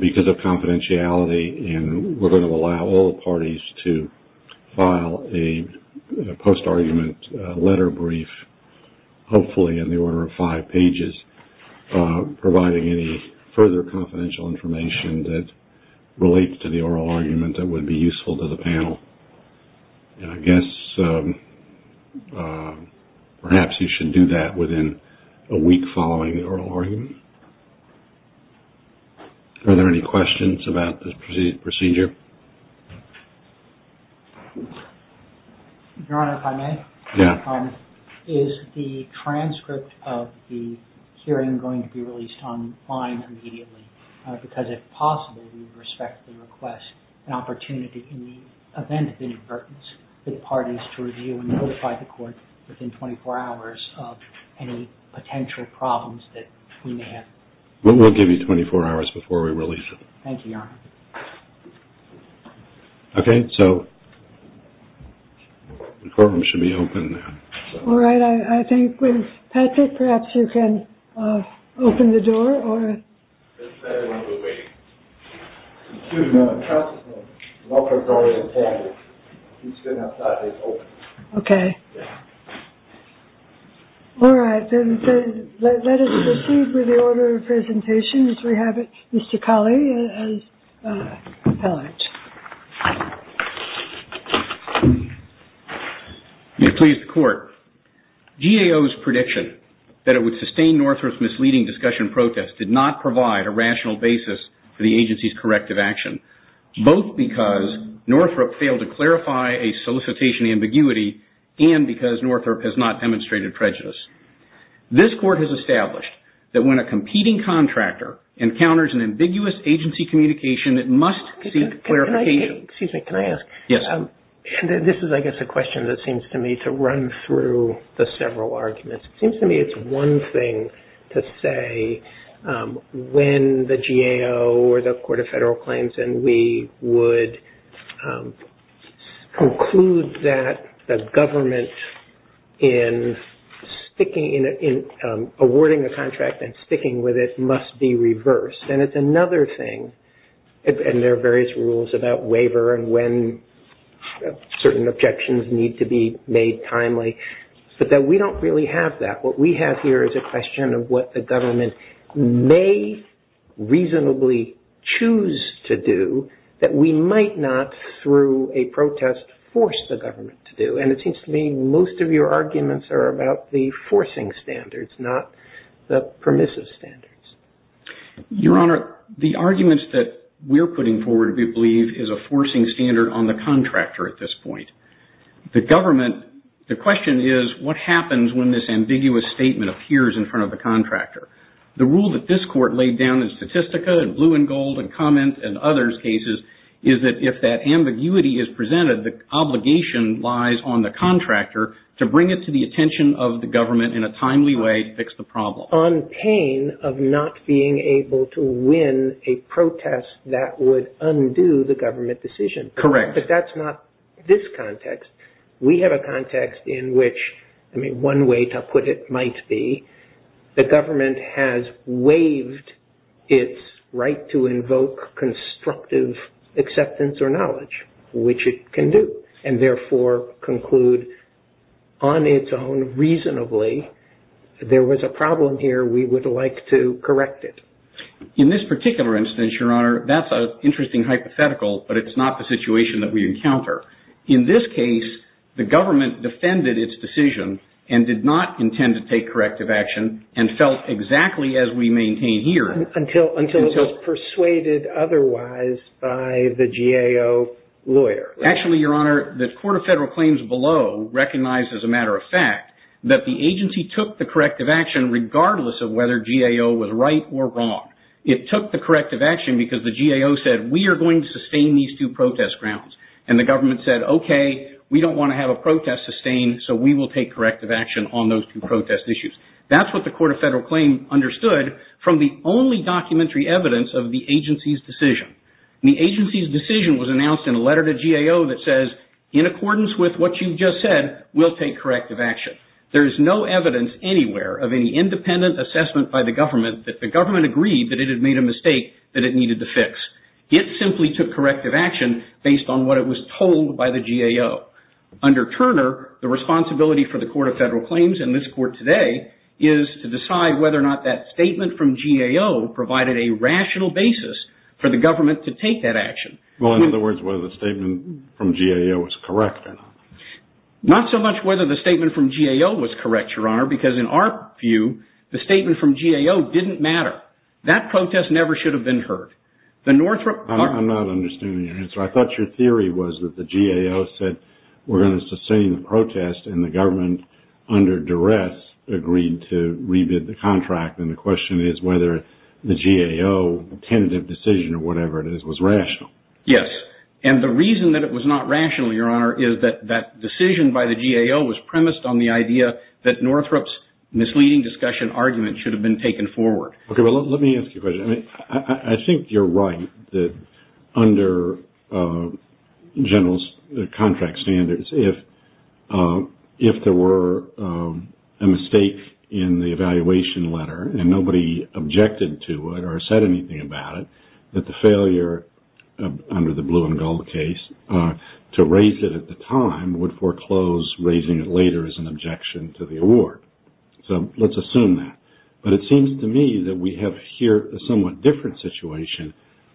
Because of confidentiality, and we're going to allow all the parties to file a post-argument letter brief, hopefully in the order of five pages, providing any further confidential information that relates to the oral argument that would be useful to the panel. And I guess perhaps you should do that within a week following the oral argument. Are there any questions about this procedure? Your Honor, if I may? Yeah. Is the transcript of the hearing going to be released online immediately? Because if possible, we respectfully request an opportunity in the event of inadvertence for the parties to review and notify the Court within 24 hours of any potential problems that we may have. We'll give you 24 hours before we release it. Thank you, Your Honor. Okay, so the courtroom should be open now. All right. I think with Patrick, perhaps you can open the door. It's better when we wait. Excuse me. I'm trusting him. He's going to have five days open. Okay. Yeah. All right. Then let us proceed with the order of presentation as we have it. Mr. Colley, as appellant. You have pleased the Court. GAO's prediction that it would sustain Northrop's misleading discussion protest did not provide a rational basis for the agency's corrective action, both because Northrop failed to clarify a solicitation ambiguity and because Northrop has not demonstrated prejudice. This Court has established that when a competing contractor encounters an ambiguous agency communication, it must seek clarification. Excuse me. Can I ask? Yes. This is, I guess, a question that seems to me to run through the several arguments. It seems to me it's one thing to say when the GAO or the Court of Federal Claims and we would conclude that the government in awarding a contract and sticking with it must be reversed. And it's another thing, and there are various rules about waiver and when certain objections need to be made timely, but that we don't really have that. What we have here is a question of what the government may reasonably choose to do that we might not through a protest force the government to do. And it seems to me most of your arguments are about the forcing standards, not the permissive standards. Your Honor, the arguments that we're putting forward we believe is a forcing standard on the contractor at this point. The government, the question is what happens when this ambiguous statement appears in front of the contractor. The rule that this Court laid down in Statistica and Blue and Gold and Comments and others cases is that if that ambiguity is presented, the obligation lies on the contractor to bring it to the attention of the government in a timely way to fix the problem. On pain of not being able to win a protest that would undo the government decision. Correct. But that's not this context. We have a context in which, I mean, one way to put it might be the government has waived its right to invoke constructive acceptance or knowledge, which it can do, and therefore conclude on its own reasonably there was a problem here, we would like to correct it. In this particular instance, Your Honor, that's an interesting hypothetical, but it's not the situation that we encounter. In this case, the government defended its decision and did not intend to take corrective action and felt exactly as we maintain here. Until it was persuaded otherwise by the GAO lawyer. Actually, Your Honor, the Court of Federal Claims below recognized as a matter of fact that the agency took the corrective action regardless of whether GAO was right or wrong. It took the corrective action because the GAO said we are going to sustain these two protest grounds. And the government said, okay, we don't want to have a protest sustained, so we will take corrective action on those two protest issues. That's what the Court of Federal Claims understood from the only documentary evidence of the agency's decision. The agency's decision was announced in a letter to GAO that says, in accordance with what you just said, we'll take corrective action. There is no evidence anywhere of any independent assessment by the government that the government agreed that it had made a mistake that it needed to fix. It simply took corrective action based on what it was told by the GAO. Under Turner, the responsibility for the Court of Federal Claims and this Court today is to decide whether or not that statement from GAO provided a rational basis for the government to take that action. Well, in other words, whether the statement from GAO was correct or not. Not so much whether the statement from GAO was correct, Your Honor, because in our view, the statement from GAO didn't matter. That protest never should have been heard. I'm not understanding your answer. I thought your theory was that the GAO said we're going to sustain the protest and the government, under duress, agreed to re-bid the contract. And the question is whether the GAO tentative decision or whatever it is was rational. Yes. And the reason that it was not rational, Your Honor, is that that decision by the GAO was premised on the idea that Northrop's misleading discussion argument should have been taken forward. Okay. Well, let me ask you a question. I think you're right that under General's contract standards, if there were a mistake in the evaluation letter and nobody objected to it or said anything about it, that the failure under the blue and gold case to raise it at the time would foreclose raising it later as an objection to the award. So let's assume that. But it seems to me that we have here a somewhat different situation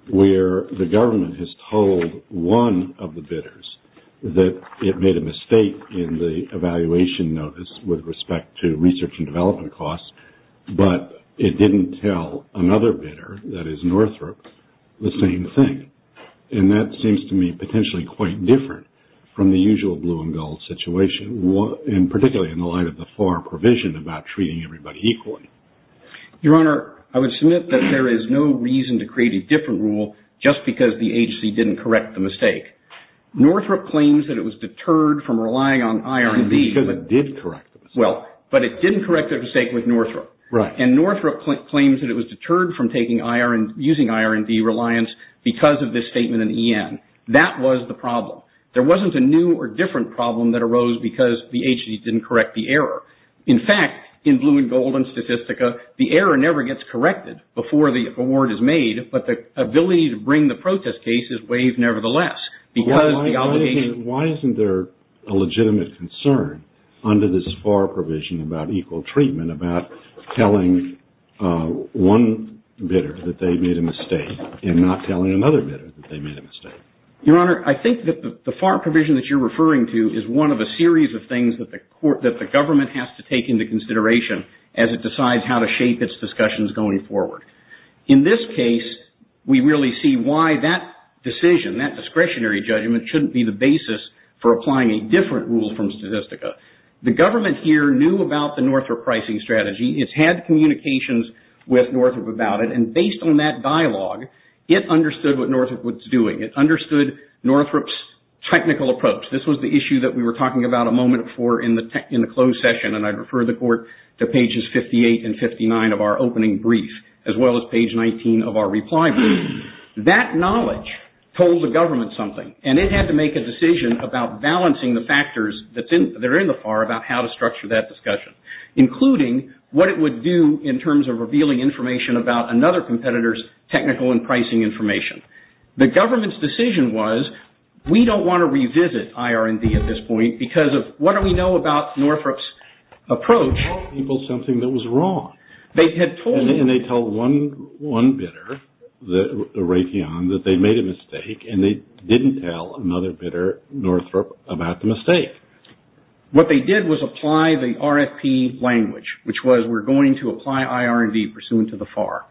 where the government has told one of the bidders that it made a mistake in the evaluation notice with respect to research and development costs, but it didn't tell another bidder, that is Northrop, the same thing. And that seems to me potentially quite different from the usual blue and gold situation, and particularly in the light of the FAR provision about treating everybody equally. Your Honor, I would submit that there is no reason to create a different rule just because the agency didn't correct the mistake. Northrop claims that it was deterred from relying on IRB. Because it did correct the mistake. Well, but it didn't correct the mistake with Northrop. Right. And Northrop claims that it was deterred from using IRB reliance because of this statement in EN. That was the problem. There wasn't a new or different problem that arose because the agency didn't correct the error. In fact, in blue and gold and Statistica, the error never gets corrected before the award is made, but the ability to bring the protest case is waived nevertheless. Why isn't there a legitimate concern under this FAR provision about equal treatment, about telling one bidder that they made a mistake and not telling another bidder that they made a mistake? Your Honor, I think that the FAR provision that you're referring to is one of a series of things that the government has to take into consideration as it decides how to shape its discussions going forward. In this case, we really see why that decision, that discretionary judgment, shouldn't be the basis for applying a different rule from Statistica. The government here knew about the Northrop pricing strategy. It's had communications with Northrop about it, and based on that dialogue, it understood what Northrop was doing. It understood Northrop's technical approach. This was the issue that we were talking about a moment before in the closed session, and as well as page 19 of our reply brief. That knowledge told the government something, and it had to make a decision about balancing the factors that are in the FAR about how to structure that discussion, including what it would do in terms of revealing information about another competitor's technical and pricing information. The government's decision was, we don't want to revisit IR&D at this point because of what do we know about Northrop's approach? They told people something that was wrong. And they told one bidder, the Raytheon, that they made a mistake, and they didn't tell another bidder, Northrop, about the mistake. What they did was apply the RFP language, which was, we're going to apply IR&D pursuant to the FAR.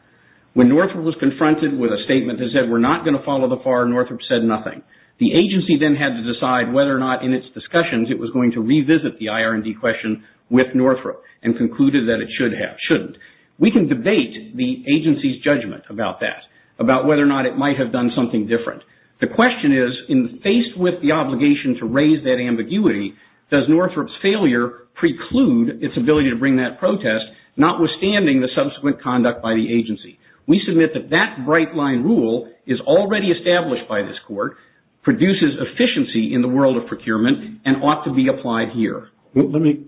When Northrop was confronted with a statement that said, we're not going to follow the FAR, Northrop said nothing. The agency then had to decide whether or not, in its discussions, it was going to revisit the IR&D question with Northrop, and concluded that it should have, shouldn't. We can debate the agency's judgment about that, about whether or not it might have done something different. The question is, faced with the obligation to raise that ambiguity, does Northrop's failure preclude its ability to bring that protest, notwithstanding the subsequent conduct by the agency? We submit that that bright-line rule is already established by this court, produces efficiency in the world of procurement, and ought to be applied here. Let me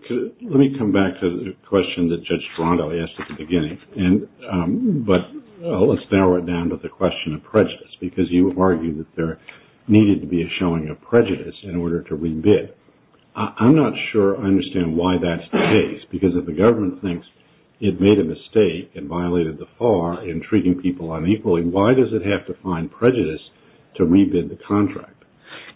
come back to the question that Judge Toronto asked at the beginning, but let's narrow it down to the question of prejudice, because you argue that there needed to be a showing of prejudice in order to re-bid. I'm not sure I understand why that's the case, because if the government thinks it made a mistake and violated the FAR in treating people unequally, why does it have to find prejudice to re-bid the contract?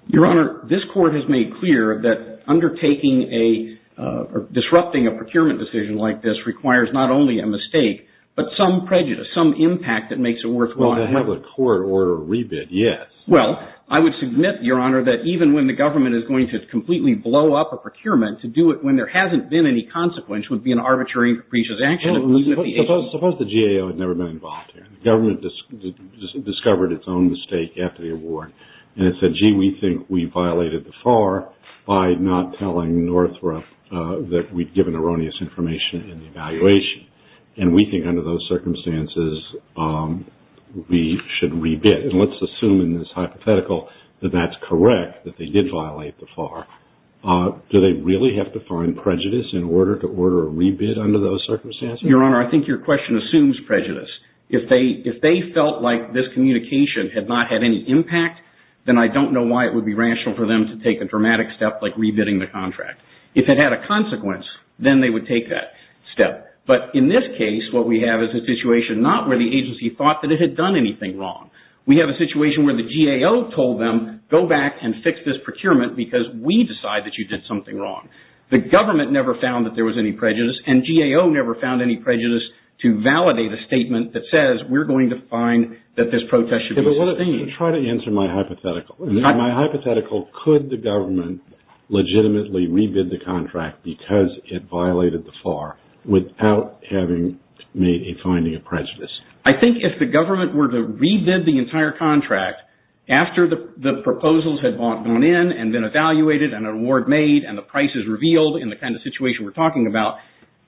Your Honor, this court has made clear that undertaking a, or disrupting a procurement decision like this requires not only a mistake, but some prejudice, some impact that makes it worthwhile. Well, to have a court order a re-bid, yes. Well, I would submit, Your Honor, that even when the government is going to completely blow up a procurement, to do it when there hasn't been any consequence would be an arbitrary and capricious action. Suppose the GAO had never been involved here. The government discovered its own mistake after the award, and it said, gee, we think we violated the FAR by not telling Northrop that we'd given erroneous information in the evaluation, and we think under those circumstances we should re-bid. And let's assume in this hypothetical that that's correct, that they did violate the FAR. Do they really have to find prejudice in order to order a re-bid under those circumstances? Your Honor, I think your question assumes prejudice. If they felt like this communication had not had any impact, then I don't know why it would be rational for them to take a dramatic step like re-bidding the contract. If it had a consequence, then they would take that step. But in this case, what we have is a situation not where the agency thought that it had done anything wrong. We have a situation where the GAO told them, go back and fix this procurement because we decide that you did something wrong. The government never found that there was any prejudice, and GAO never found any prejudice to validate a statement that says we're going to find that this protest should be sustained. Try to answer my hypothetical. In my hypothetical, could the government legitimately re-bid the contract because it violated the FAR without having made a finding of prejudice? I think if the government were to re-bid the entire contract after the proposals had gone in and been evaluated and an award made and the prices revealed in the kind of situation we're talking about,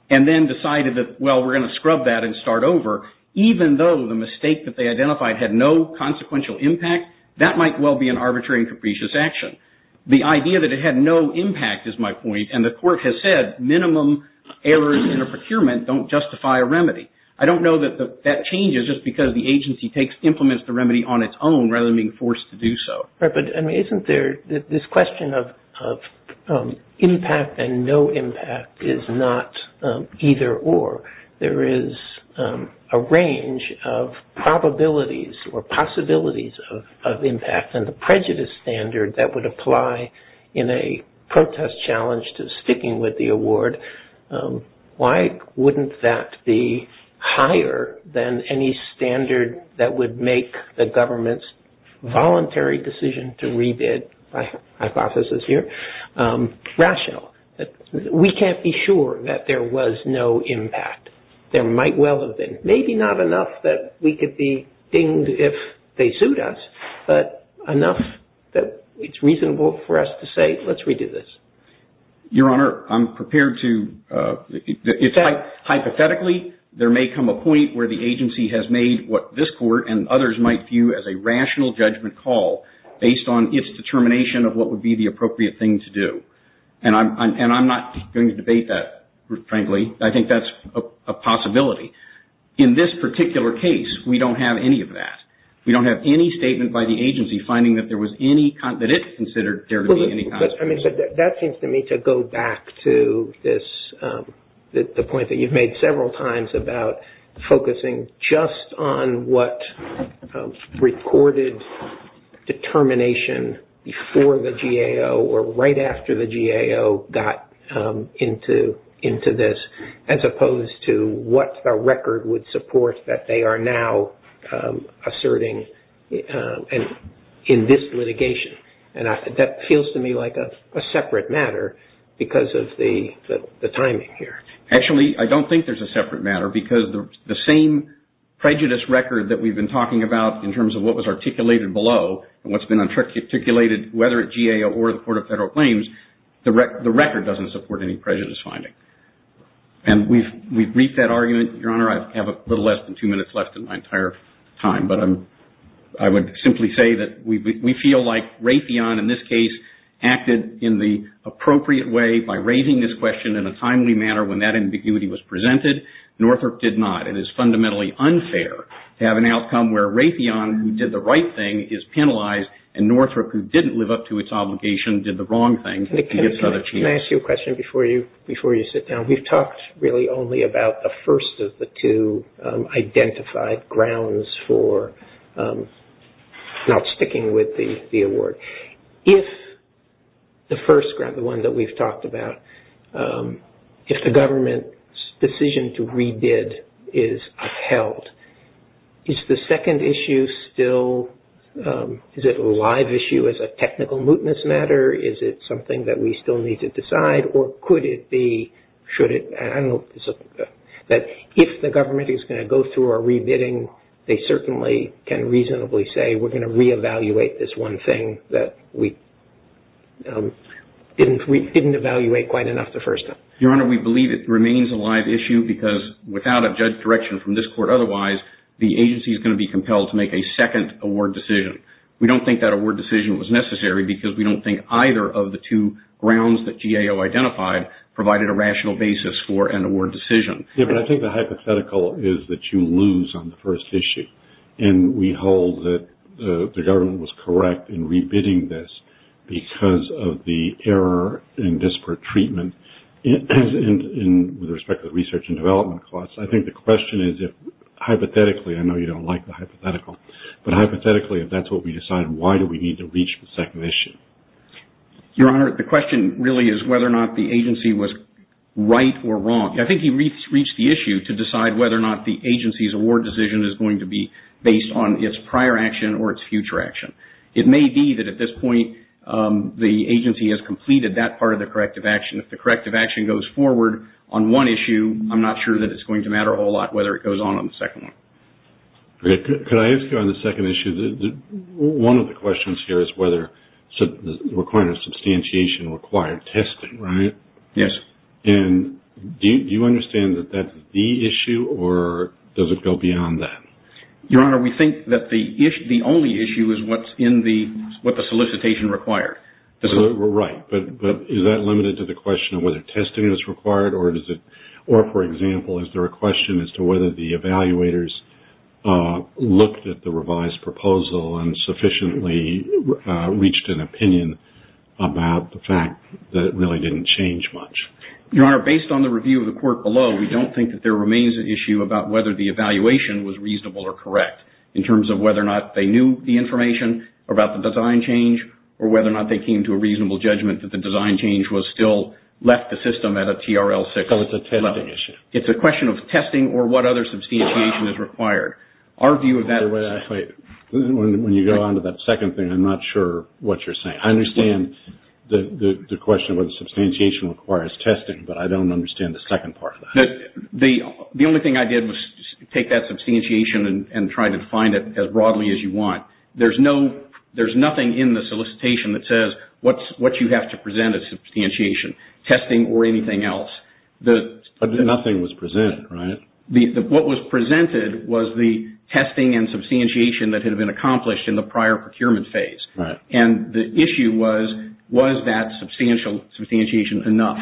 and then decided that, well, we're going to scrub that and start over, even though the mistake that they identified had no consequential impact, that might well be an arbitrary and capricious action. The idea that it had no impact is my point, and the court has said minimum errors in a procurement don't justify a remedy. I don't know that that changes just because the agency implements the remedy on its own rather than being forced to do so. Isn't there this question of impact and no impact is not either or. There is a range of probabilities or possibilities of impact and the prejudice standard that would apply in a protest challenge to sticking with the award. Why wouldn't that be higher than any standard that would make the government's voluntary decision to re-bid, my hypothesis here, rational? We can't be sure that there was no impact. There might well have been. Maybe not enough that we could be dinged if they sued us, but enough that it's reasonable for us to say, let's re-do this. Your Honor, I'm prepared to, hypothetically, there may come a point where the agency has made what this court and others might view as a rational judgment call based on its determination of what would be the appropriate thing to do. And I'm not going to debate that, frankly. I think that's a possibility. In this particular case, we don't have any of that. We don't have any statement by the agency finding that there was any, that it considered there to be any kind of... That seems to me to go back to this, the point that you've made several times about focusing just on what recorded determination before the GAO or right after the GAO got into this, as opposed to what the record would support that they are now asserting in this litigation. And that feels to me like a separate matter because of the timing here. Actually, I don't think there's a separate matter because the same prejudice record that we've been talking about in terms of what was articulated below and what's been articulated, whether at GAO or the Court of Federal Claims, the record doesn't support any prejudice finding. And we've reached that argument. Your Honor, I have a little less than two minutes left in my entire time, but I would simply say that we feel like that ambiguity was presented. Northrop did not. It is fundamentally unfair to have an outcome where Raytheon, who did the right thing, is penalized, and Northrop, who didn't live up to its obligation, did the wrong thing. Can I ask you a question before you sit down? We've talked really only about the first of the two identified grounds for not sticking with the award. If the first ground, the one that we've talked about, if the government's decision to re-bid is upheld, is the second issue still, is it a live issue as a technical mootness matter? Is it something that we still need to decide? Or could it be, should it, I don't know, that if the government is going to go through a re-bidding, they certainly can reasonably say, we're going to re-evaluate this one thing that we didn't evaluate quite enough the first time. Your Honor, we believe it remains a live issue because without a judge's direction from this court otherwise, the agency is going to be compelled to make a second award decision. We don't think that award decision was necessary because we don't think either of the two grounds that GAO identified provided a rational basis for an award decision. Yeah, but I think the hypothetical is that you lose on the first issue. And we hold that the government was correct in re-bidding this because of the error in disparate treatment. And with respect to the research and development costs, I think the question is if hypothetically, I know you don't like the hypothetical, but hypothetically if that's what we decide, why do we need to reach the second issue? Your Honor, the question really is whether or not the agency was right or wrong. I think he reached the issue to decide whether or not the agency's award decision is going to be based on its prior action or its future action. It may be that at this point, the agency has completed that part of the corrective action. If the corrective action goes forward on one issue, I'm not sure that it's going to matter a whole lot whether it goes on on the second one. Could I ask you on the second issue, one of the questions here is whether the requirement of substantiation required testing, right? Yes. And do you understand that that's the issue or does it go beyond that? Your Honor, we think that the only issue is what's in the solicitation required. Right. But is that limited to the question of whether testing is required or, for example, is there a question as to whether the evaluators looked at the revised proposal and sufficiently reached an opinion about the fact that it really didn't change much? Your Honor, based on the review of the court below, we don't think that there remains an issue about whether the evaluation was reasonable or correct in terms of whether or not they knew the information about the design change or whether or not they came to a reasonable judgment that the design change was still left the system at a TRL 6 level. So it's a testing issue. It's a question of testing or what other substantiation is required. Wait. When you go on to that second thing, I'm not sure what you're saying. I understand the question of whether substantiation requires testing, but I don't understand the second part of that. The only thing I did was take that substantiation and try to define it as broadly as you want. There's nothing in the solicitation that says what you have to present as substantiation, testing or anything else. Nothing was presented, right? What was presented was the testing and substantiation that had been accomplished in the prior procurement phase. And the issue was, was that substantiation enough?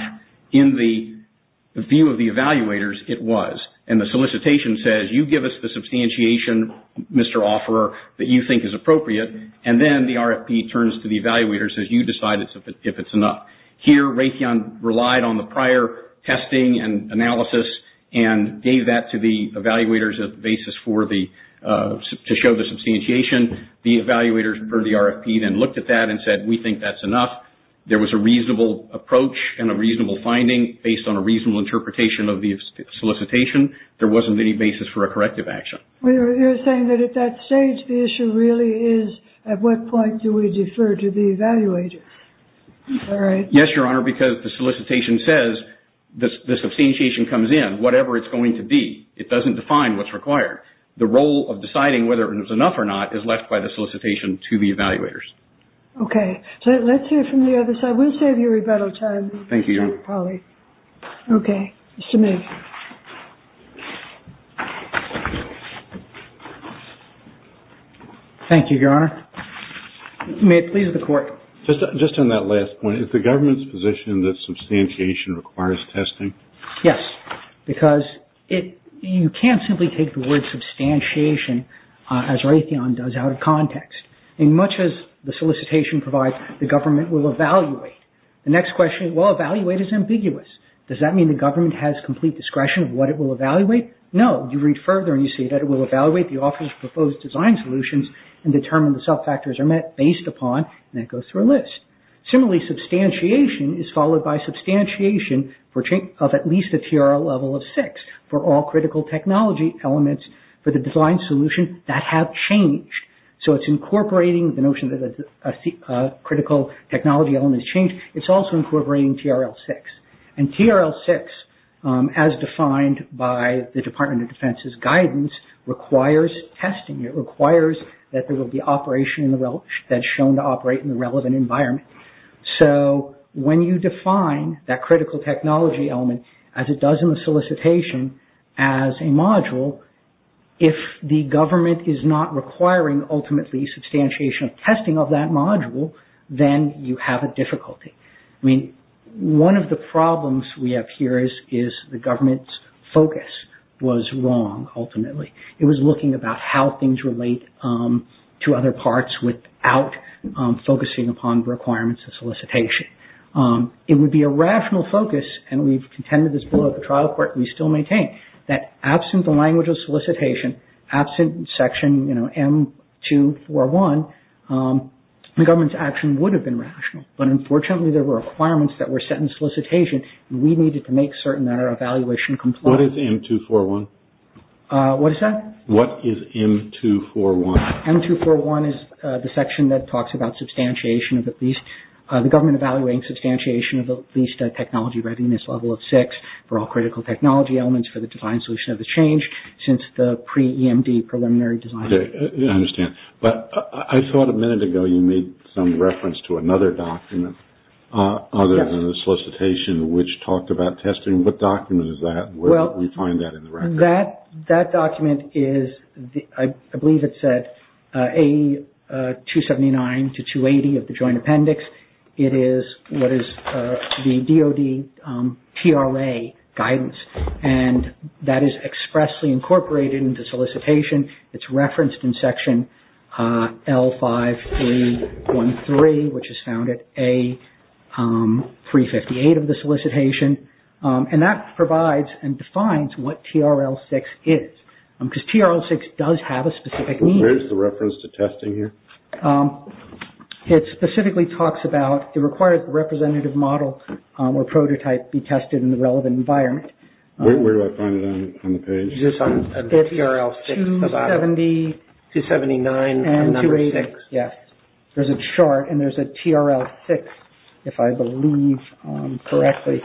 In the view of the evaluators, it was. And the solicitation says, you give us the substantiation, Mr. Offerer, that you think is appropriate, and then the RFP turns to the evaluators and says, you decide if it's enough. Here, Raytheon relied on the prior testing and analysis and gave that to the evaluators as the basis for the, to show the substantiation. The evaluators referred to the RFP and looked at that and said, we think that's enough. There was a reasonable approach and a reasonable finding based on a reasonable interpretation of the solicitation. There wasn't any basis for a corrective action. You're saying that at that stage, the issue really is, at what point do we defer to the evaluators? Yes, Your Honor, because the solicitation says, the substantiation comes in, whatever it's going to be. It doesn't define what's required. The role of deciding whether it was enough or not is left by the solicitation to the evaluators. Okay. Let's hear from the other side. We'll save you rebuttal time. Thank you, Your Honor. Okay. Mr. May. Thank you, Your Honor. May it please the Court. Just on that last point, is the government's position that substantiation requires testing? Yes, because you can't simply take the word substantiation, as Raytheon does, out of context. In much as the solicitation provides, the government will evaluate. The next question is, well, evaluate is ambiguous. Does that mean the government has complete discretion of what it will evaluate? No. You read further and you see that it will evaluate the office's proposed design solutions and determine the sub-factors are met based upon, and it goes through a list. Similarly, substantiation is followed by substantiation of at least a TRL level of six for all critical technology elements for the design solution that have changed. So it's incorporating the notion that a critical technology element has changed. It's also incorporating TRL six. And TRL six, as defined by the Department of Defense's guidance, requires testing. It requires that there will be operation that's shown to operate in the relevant environment. So when you define that critical technology element, as it does in the solicitation, as a module, if the government is not requiring, ultimately, substantiation of testing of that module, then you have a difficulty. I mean, one of the problems we have here is the government's focus was wrong, ultimately. It was looking about how things relate to other parts without focusing upon requirements of solicitation. It would be a rational focus, and we've contended this below the trial court, and we still maintain that absent the language of solicitation, absent Section M241, the government's action would have been rational. But unfortunately, there were requirements that were set in solicitation, and we needed to make certain that our evaluation complied. What is M241? What is that? What is M241? M241 is the section that talks about substantiation of at least, the government evaluating substantiation of at least a technology readiness level of six for all critical technology elements for the design solution of the change since the pre-EMD preliminary design. Okay, I understand. But I thought a minute ago you made some reference to another document other than the solicitation, which talked about testing. What document is that? And where did we find that in the record? That document is, I believe it said, A279 to 280 of the joint appendix. It is what is the DOD PLA guidance, and that is expressly incorporated into solicitation. It's referenced in Section L5A13, which is found at A358 of the solicitation. And that provides and defines what TRL 6 is, because TRL 6 does have a specific meaning. Where is the reference to testing here? It specifically talks about it requires the representative model or prototype be tested in the relevant environment. Where do I find it on the page? Is this on TRL 6? 270. 279 and number 6. Yes, there's a chart, and there's a TRL 6, if I believe correctly.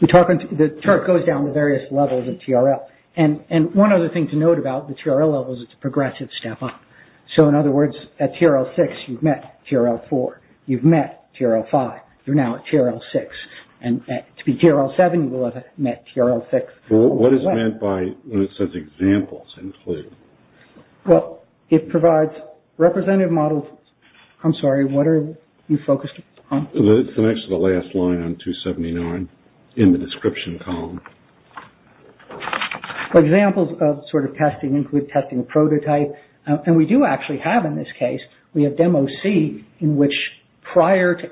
The chart goes down to various levels of TRL. And one other thing to note about the TRL levels is it's a progressive step up. So, in other words, at TRL 6, you've met TRL 4. You've met TRL 5. You're now at TRL 6. And to be TRL 7, you will have met TRL 6. What is meant by when it says examples in blue? Well, it provides representative models. I'm sorry. What are you focused on? The next to the last line on 279 in the description column. Examples of sort of testing include testing a prototype. And we do actually have in this case, we have Demo C in which prior to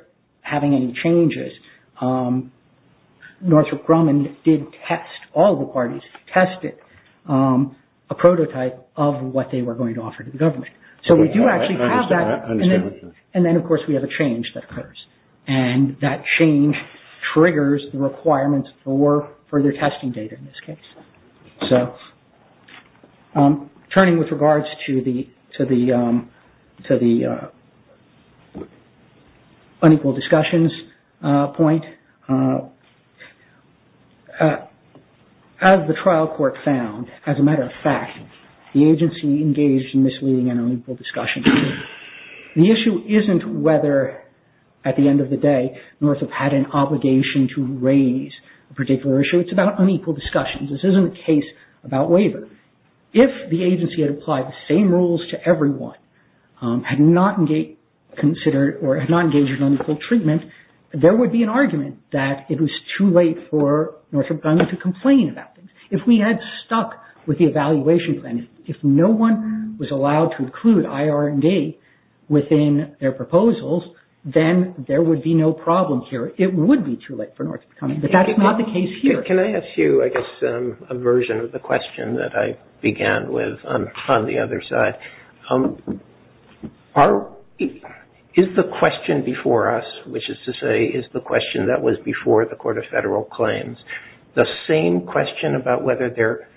having any changes, Northrop Grumman did test all the parties, tested a prototype of what they were going to offer to the government. So, we do actually have that. I understand. And then, of course, we have a change that occurs. And that change triggers the requirements for further testing data in this case. So, turning with regards to the unequal discussions point, as the trial court found, as a matter of fact, the agency engaged in misleading and unequal discussions. The issue isn't whether at the end of the day, Northrop had an obligation to raise a particular issue. It's about unequal discussions. This isn't a case about waiver. If the agency had applied the same rules to everyone, had not engaged in unequal treatment, there would be an argument that it was too late for Northrop Grumman to complain about things. If we had stuck with the evaluation plan, if no one was allowed to include IR&D within their proposals, then there would be no problem here. It would be too late for Northrop Grumman, but that's not the case here. Can I ask you, I guess, a version of the question that I began with on the other side? Is the question before us, which is to say, is the question that was before the Court of Federal Claims, the same question about whether there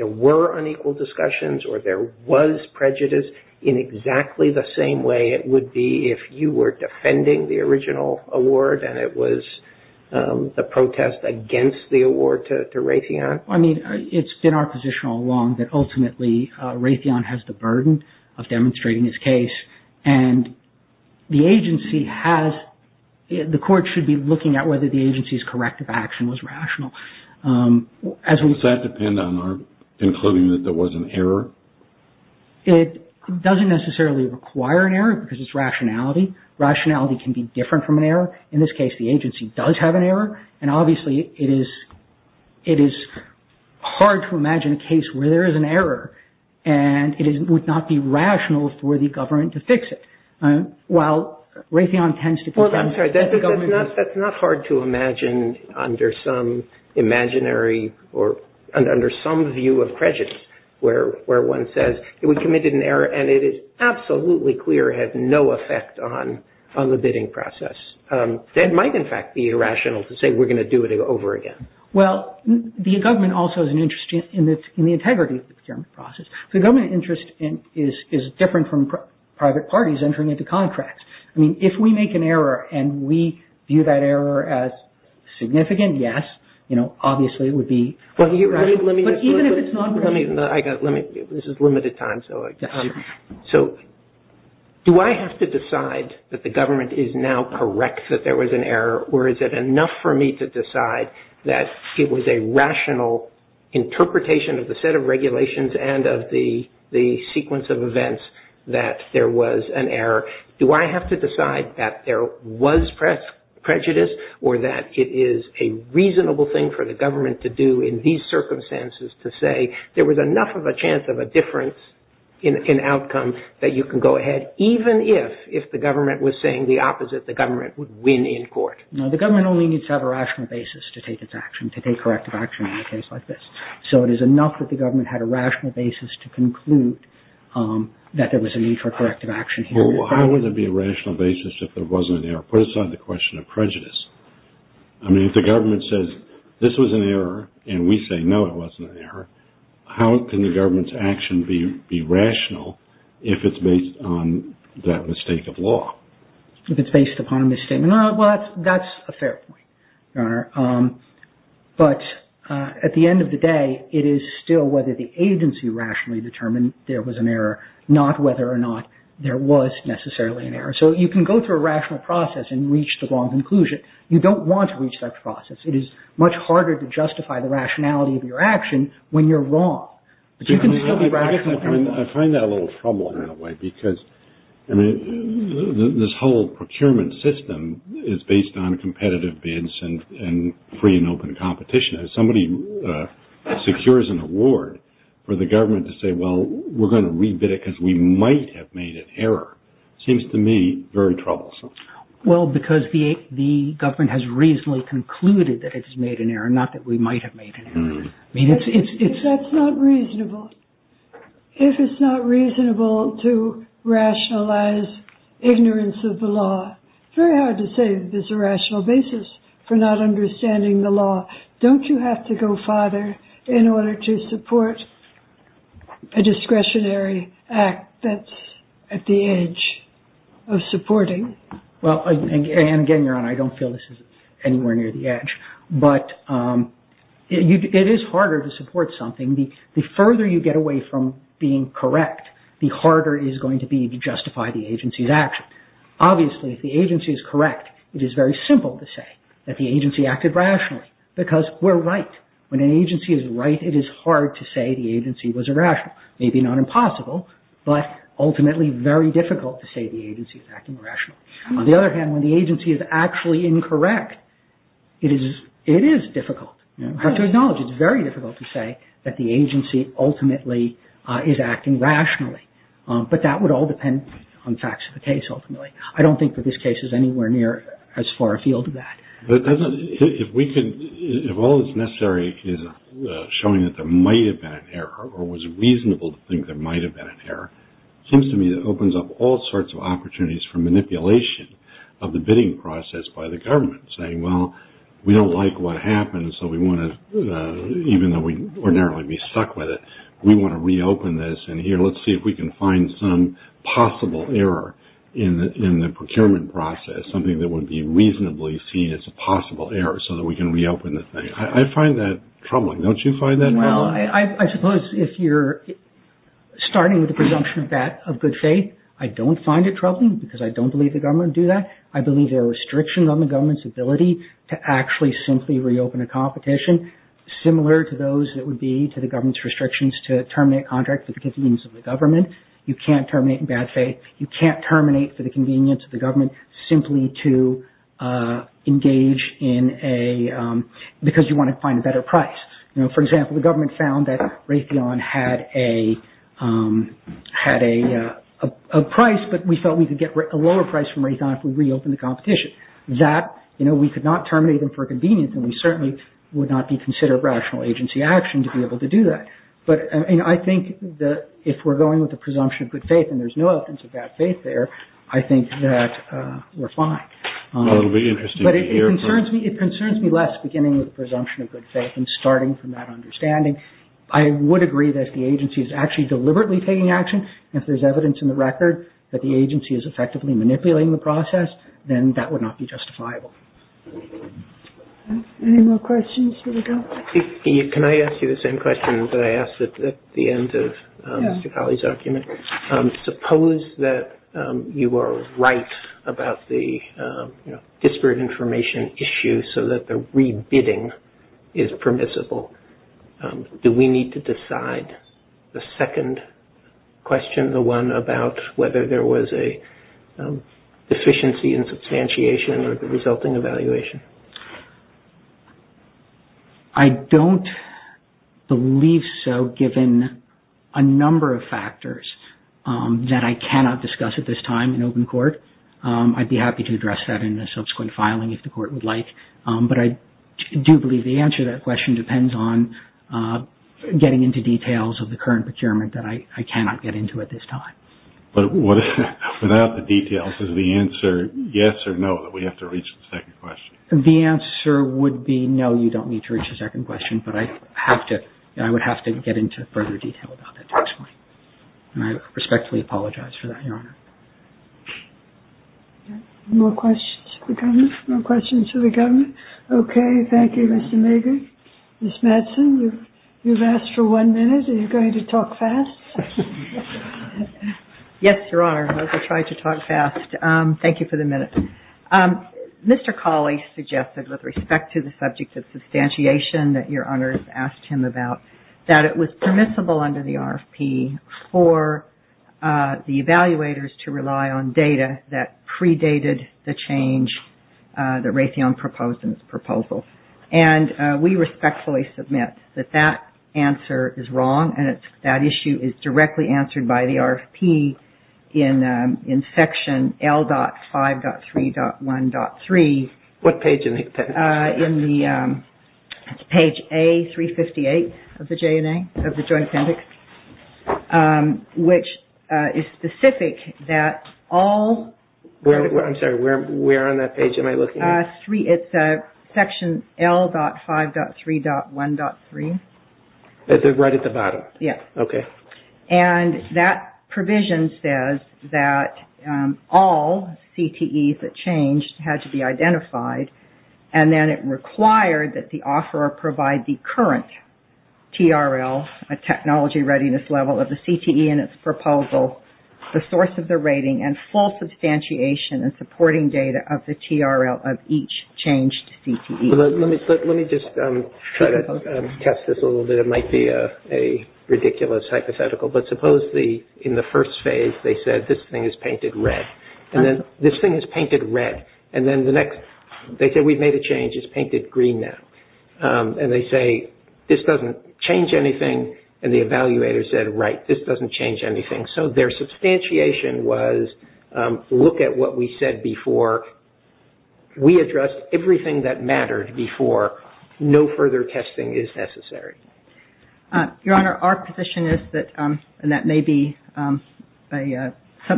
were unequal discussions or there was prejudice, in exactly the same way it would be if you were defending the original award and it was the protest against the award to Raytheon? I mean, it's been our position all along that ultimately Raytheon has the burden of demonstrating its case, and the agency has, the Court should be looking at whether the agency's corrective action was rational. Does that depend on our concluding that there was an error? It doesn't necessarily require an error because it's rationality. Rationality can be different from an error. In this case, the agency does have an error, and obviously it is hard to imagine a case where there is an error and it would not be rational for the government to fix it. While Raytheon tends to defend the government... ...we committed an error and it is absolutely clear it had no effect on the bidding process. That might in fact be irrational to say we're going to do it over again. Well, the government also has an interest in the integrity of the procurement process. The government interest is different from private parties entering into contracts. I mean, if we make an error and we view that error as significant, yes, obviously it would be... But even if it's not... This is limited time, so... Do I have to decide that the government is now correct that there was an error, or is it enough for me to decide that it was a rational interpretation of the set of regulations and of the sequence of events that there was an error? Do I have to decide that there was prejudice or that it is a reasonable thing for the government to do in these circumstances to say there was enough of a chance of a difference in outcome that you can go ahead, even if the government was saying the opposite, the government would win in court? No, the government only needs to have a rational basis to take its action, to take corrective action in a case like this. So it is enough that the government had a rational basis to conclude that there was a need for corrective action here. Well, how would there be a rational basis if there wasn't an error? Put aside the question of prejudice. I mean, if the government says, this was an error, and we say, no, it wasn't an error, how can the government's action be rational if it's based on that mistake of law? If it's based upon a misstatement. Well, that's a fair point, Your Honour. But at the end of the day, it is still whether the agency rationally determined there was an error, not whether or not there was necessarily an error. So you can go through a rational process and reach the wrong conclusion. You don't want to reach that process. It is much harder to justify the rationality of your action when you're wrong. But you can still be rational. I find that a little troubling in a way because this whole procurement system is based on competitive bids and free and open competition. If somebody secures an award for the government to say, well, we're going to re-bid it because we might have made an error, it seems to me very troublesome. Well, because the government has reasonably concluded that it's made an error, not that we might have made an error. That's not reasonable. If it's not reasonable to rationalize ignorance of the law, it's very hard to say that there's a rational basis for not understanding the law. Don't you have to go farther in order to support a discretionary act that's at the edge of supporting? Well, and again, Your Honour, I don't feel this is anywhere near the edge. But it is harder to support something. The further you get away from being correct, the harder it is going to be to justify the agency's action. Obviously, if the agency is correct, it is very simple to say that the agency acted rationally because we're right. When an agency is right, it is hard to say the agency was irrational. Maybe not impossible, but ultimately very difficult to say the agency is acting irrationally. On the other hand, when the agency is actually incorrect, it is difficult. I have to acknowledge it's very difficult to say that the agency ultimately is acting rationally. But that would all depend on the facts of the case, ultimately. I don't think that this case is anywhere near as far afield as that. If all that's necessary is showing that there might have been an error or was reasonable to think there might have been an error, it seems to me it opens up all sorts of opportunities for manipulation of the bidding process by the government, saying, well, we don't like what happened, so we want to, even though we ordinarily would be stuck with it, we want to reopen this, and here, let's see if we can find some possible error in the procurement process, something that would be reasonably seen as a possible error so that we can reopen the thing. I find that troubling. Don't you find that troubling? Well, I suppose if you're starting with the presumption of good faith, I don't find it troubling, because I don't believe the government would do that. I believe there are restrictions on the government's ability to actually simply reopen a competition, similar to those that would be to the government's restrictions to terminate a contract for the convenience of the government. You can't terminate in bad faith. You can't terminate for the convenience of the government simply because you want to find a better price. For example, the government found that Raytheon had a price, but we felt we could get a lower price from Raytheon if we reopened the competition. We could not terminate them for convenience, and we certainly would not consider rational agency action to be able to do that. I think that if we're going with the presumption of good faith, and there's no evidence of bad faith there, I think that we're fine. It concerns me less beginning with the presumption of good faith and starting from that understanding. I would agree that if the agency is actually deliberately taking action, and if there's evidence in the record that the agency is effectively manipulating the process, then that would not be justifiable. Any more questions? Can I ask you the same question that I asked at the end of Mr. Colley's argument? Suppose that you are right about the disparate information issue so that the re-bidding is permissible. Do we need to decide the second question, the one about whether there was a deficiency in substantiation or the resulting evaluation? I don't believe so given a number of factors that I cannot discuss at this time in open court. I'd be happy to address that in a subsequent filing if the court would like, but I do believe the answer to that question depends on getting into details of the current procurement that I cannot get into at this time. Without the details, is the answer yes or no that we have to reach the second question? The answer would be no, you don't need to reach the second question, but I would have to get into further detail about that to explain. I respectfully apologize for that, Your Honor. Any more questions for the government? No questions for the government? Okay, thank you, Mr. Mager. Ms. Madsen, you've asked for one minute. Are you going to talk fast? Yes, Your Honor, I will try to talk fast. Thank you for the minute. Mr. Colley suggested with respect to the subject of substantiation that Your Honors asked him about that it was permissible under the RFP for the evaluators to rely on data that predated the change, the Raytheon proposal, and we respectfully submit that that answer is wrong and that issue is directly answered by the RFP in section L.5.3.1.3. What page is it? It's page A358 of the Joint Appendix, which is specific that all- I'm sorry, where on that page am I looking at? It's section L.5.3.1.3. Right at the bottom? Yes. Okay. And that provision says that all CTEs that changed had to be identified, and then it required that the offeror provide the current TRL, a technology readiness level, of the CTE in its proposal, the source of the rating, and full substantiation and supporting data of the TRL of each changed CTE. Let me just try to test this a little bit. It might be a ridiculous hypothetical, but suppose in the first phase they said, this thing is painted red, and then this thing is painted red, and then the next- they said, we've made a change. It's painted green now. And they say, this doesn't change anything, and the evaluator said, right, this doesn't change anything. So their substantiation was, look at what we said before. We addressed everything that mattered before. No further testing is necessary. Your Honor, our position is that, and that may be a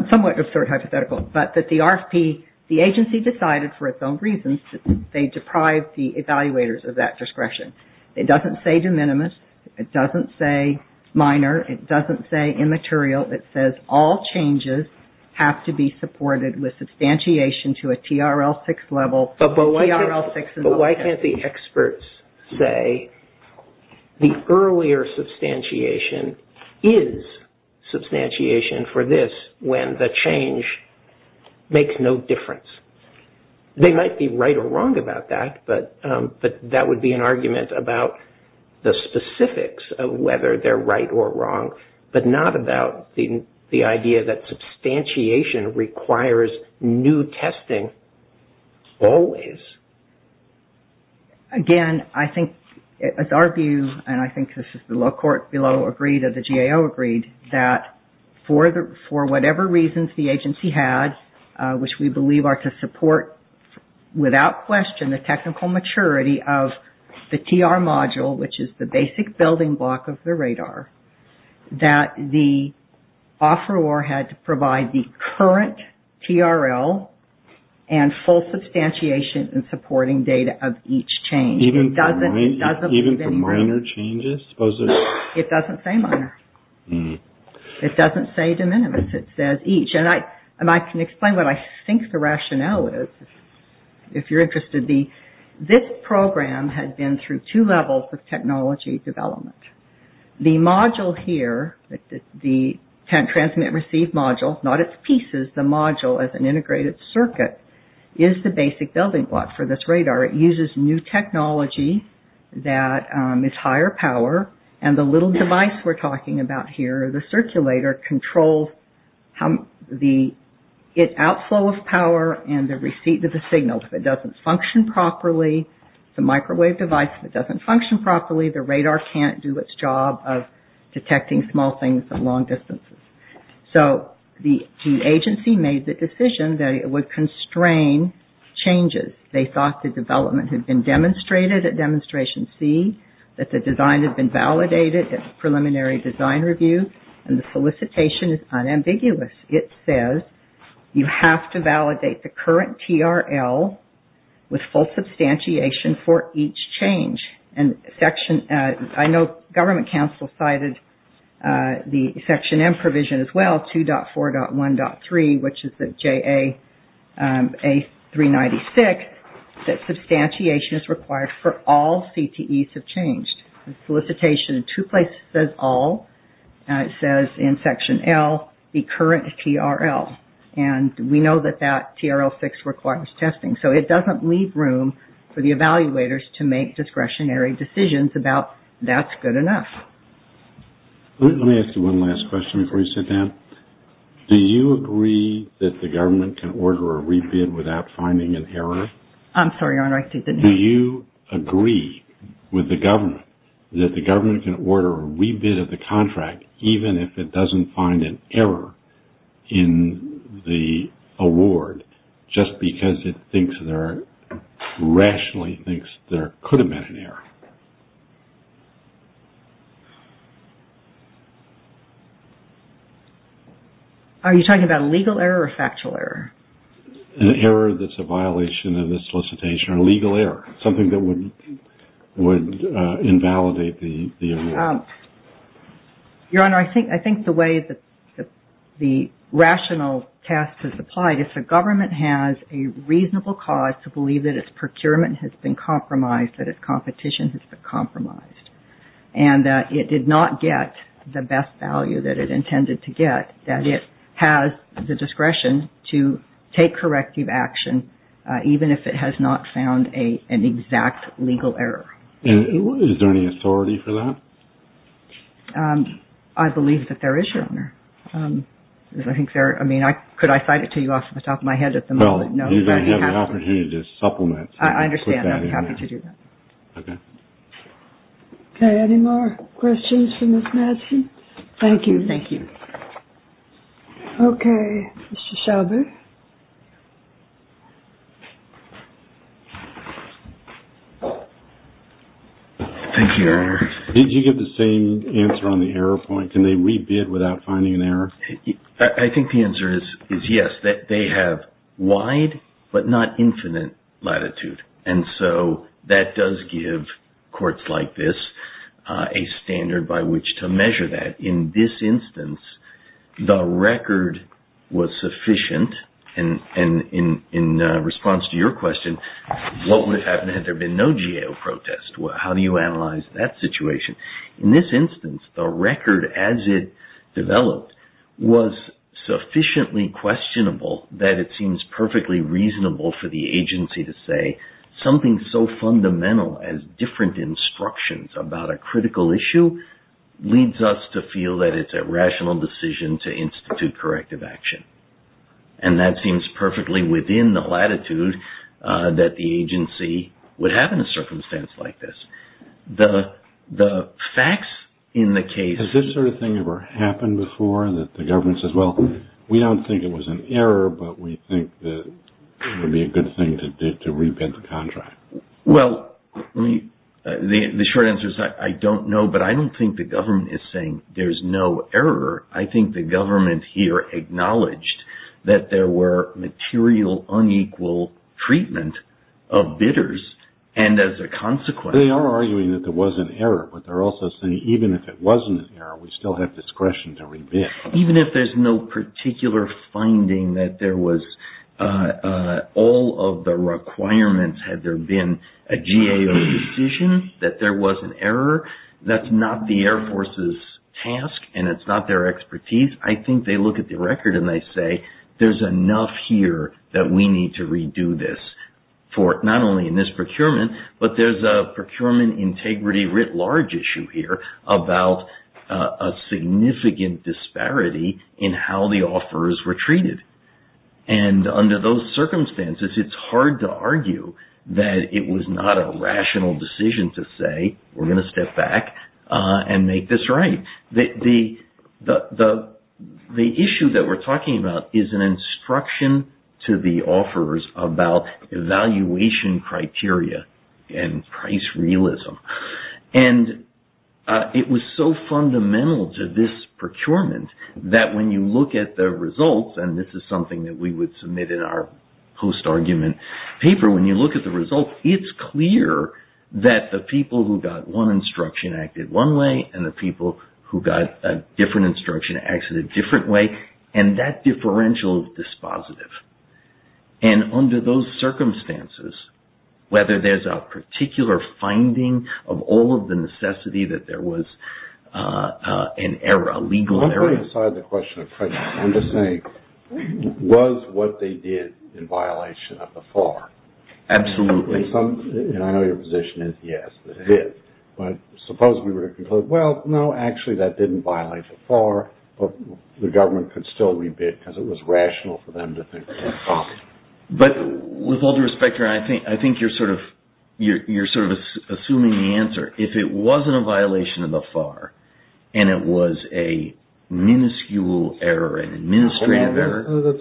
somewhat absurd hypothetical, but that the RFP, the agency decided for its own reasons that they deprived the evaluators of that discretion. It doesn't say de minimis. It doesn't say minor. It doesn't say immaterial. It says all changes have to be supported with substantiation to a TRL 6 level. But why can't the experts say the earlier substantiation is substantiation for this, when the change makes no difference? They might be right or wrong about that, but that would be an argument about the specifics of whether they're right or wrong, but not about the idea that substantiation requires new testing always. Again, I think it's our view, and I think this is the low court below agreed or the GAO agreed, that for whatever reasons the agency has, which we believe are to support without question the technical maturity of the TR module, which is the basic building block of the radar, that the offeror had to provide the current TRL and full substantiation in supporting data of each change. Even for minor changes? It doesn't say minor. It doesn't say de minimis. It says each. And I can explain what I think the rationale is, if you're interested. This program had been through two levels of technology development. The module here, the transmit-receive module, not its pieces, the module as an integrated circuit, is the basic building block for this radar. It uses new technology that is higher power, and the little device we're talking about here, the circulator, controls the outflow of power and the receipt of the signal. If it doesn't function properly, the microwave device, if it doesn't function properly, the radar can't do its job of detecting small things at long distances. So the agency made the decision that it would constrain changes. They thought the development had been demonstrated at Demonstration C, that the design had been validated at the preliminary design review, and the solicitation is unambiguous. It says you have to validate the current TRL with full substantiation for each change. And I know government counsel cited the Section M provision as well, 2.4.1.3, which is the JA-396, that substantiation is required for all CTEs of change. The solicitation in two places says all. It says in Section L, the current TRL. And we know that that TRL-6 requires testing. So it doesn't leave room for the evaluators to make discretionary decisions about that's good enough. Let me ask you one last question before you sit down. Do you agree that the government can order a rebid without finding an error? I'm sorry, Your Honor, I didn't hear you. Do you agree with the government that the government can order a rebid of the contract, even if it doesn't find an error in the award, just because it rationally thinks there could have been an error? Are you talking about a legal error or a factual error? An error that's a violation of the solicitation or a legal error, something that would invalidate the award. Your Honor, I think the way the rational test is applied is the government has a reasonable cause to believe that its procurement has been compromised, that its competition has been compromised, and that it did not get the best value that it intended to get, that it has the discretion to take corrective action, even if it has not found an exact legal error. And is there any authority for that? I believe that there is, Your Honor. I think there – I mean, could I cite it to you off the top of my head at the moment? Well, you're going to have the opportunity to supplement and put that in there. I understand. I'd be happy to do that. Okay. Okay, any more questions for Ms. Madsen? Thank you. Thank you. Okay, Mr. Schauble. Thank you, Your Honor. Did you get the same answer on the error point? Can they re-bid without finding an error? I think the answer is yes. They have wide but not infinite latitude. And so that does give courts like this a standard by which to measure that. In this instance, the record was sufficient. And in response to your question, what would have happened had there been no GAO protest? How do you analyze that situation? In this instance, the record as it developed was sufficiently questionable that it seems perfectly reasonable for the agency to say something so fundamental as different instructions about a critical issue leads us to feel that it's a rational decision to institute corrective action. And that seems perfectly within the latitude that the agency would have in a circumstance like this. The facts in the case... Has this sort of thing ever happened before that the government says, well, we don't think it was an error, but we think that it would be a good thing to re-bid the contract? Well, the short answer is I don't know, but I don't think the government is saying there's no error. I think the government here acknowledged that there were material unequal treatment of bidders. And as a consequence... They are arguing that there was an error, but they're also saying even if it wasn't an error, we still have discretion to re-bid. Even if there's no particular finding that there was all of the requirements had there been a GAO decision that there was an error, that's not the Air Force's task and it's not their expertise. I think they look at the record and they say there's enough here that we need to re-do this. Not only in this procurement, but there's a procurement integrity writ large issue here about a significant disparity in how the offers were treated. And under those circumstances, it's hard to argue that it was not a rational decision to say we're going to step back and make this right. The issue that we're talking about is an instruction to the offers about evaluation criteria and price realism. And it was so fundamental to this procurement that when you look at the results, and this is something that we would submit in our post-argument paper, when you look at the results, it's clear that the people who got one instruction acted one way and the people who got a different instruction acted a different way. And that differential is dispositive. And under those circumstances, whether there's a particular finding of all of the necessity that there was an error, I'm just saying, was what they did in violation of the FAR? Absolutely. And I know your position is yes, it did. But suppose we were to conclude, well, no, actually that didn't violate the FAR, but the government could still re-bid because it was rational for them to think that way. But with all due respect here, I think you're sort of assuming the answer. If it wasn't a violation of the FAR and it was a minuscule error, an administrative error... Those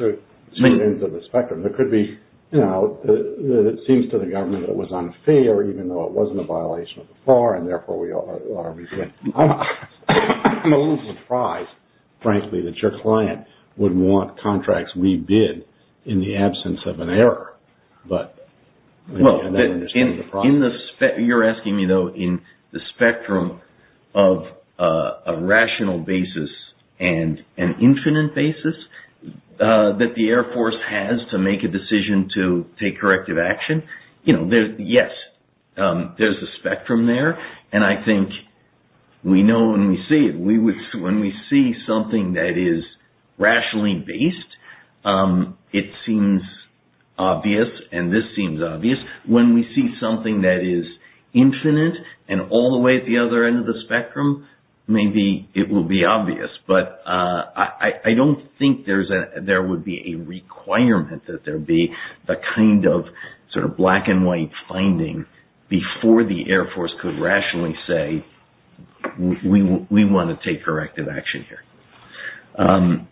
are two ends of the spectrum. It could be that it seems to the government that it was unfair even though it wasn't a violation of the FAR and therefore we are re-bidding. I'm a little surprised, frankly, that your client would want contracts re-bid in the absence of an error. Well, you're asking me, though, in the spectrum of a rational basis and an infinite basis that the Air Force has to make a decision to take corrective action. Yes, there's a spectrum there. And I think we know when we see it. When we see something that is rationally based, it seems obvious and this seems obvious. When we see something that is infinite and all the way at the other end of the spectrum, maybe it will be obvious. But I don't think there would be a requirement that there be the kind of sort of black and white finding before the Air Force could rationally say, we want to take corrective action here.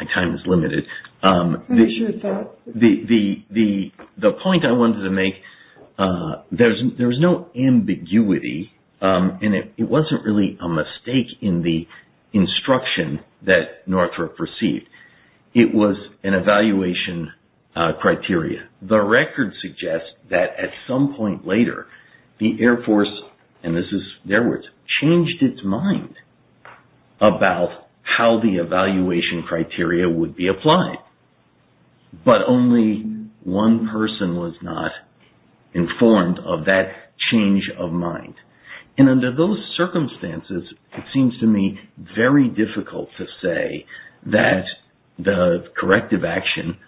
My time is limited. I'm sure it's not. The point I wanted to make, there's no ambiguity and it wasn't really a mistake in the instruction that Northrop received. It was an evaluation criteria. And the record suggests that at some point later, the Air Force, and this is their words, changed its mind about how the evaluation criteria would be applied. But only one person was not informed of that change of mind. And under those circumstances, it seems to me very difficult to say that the corrective action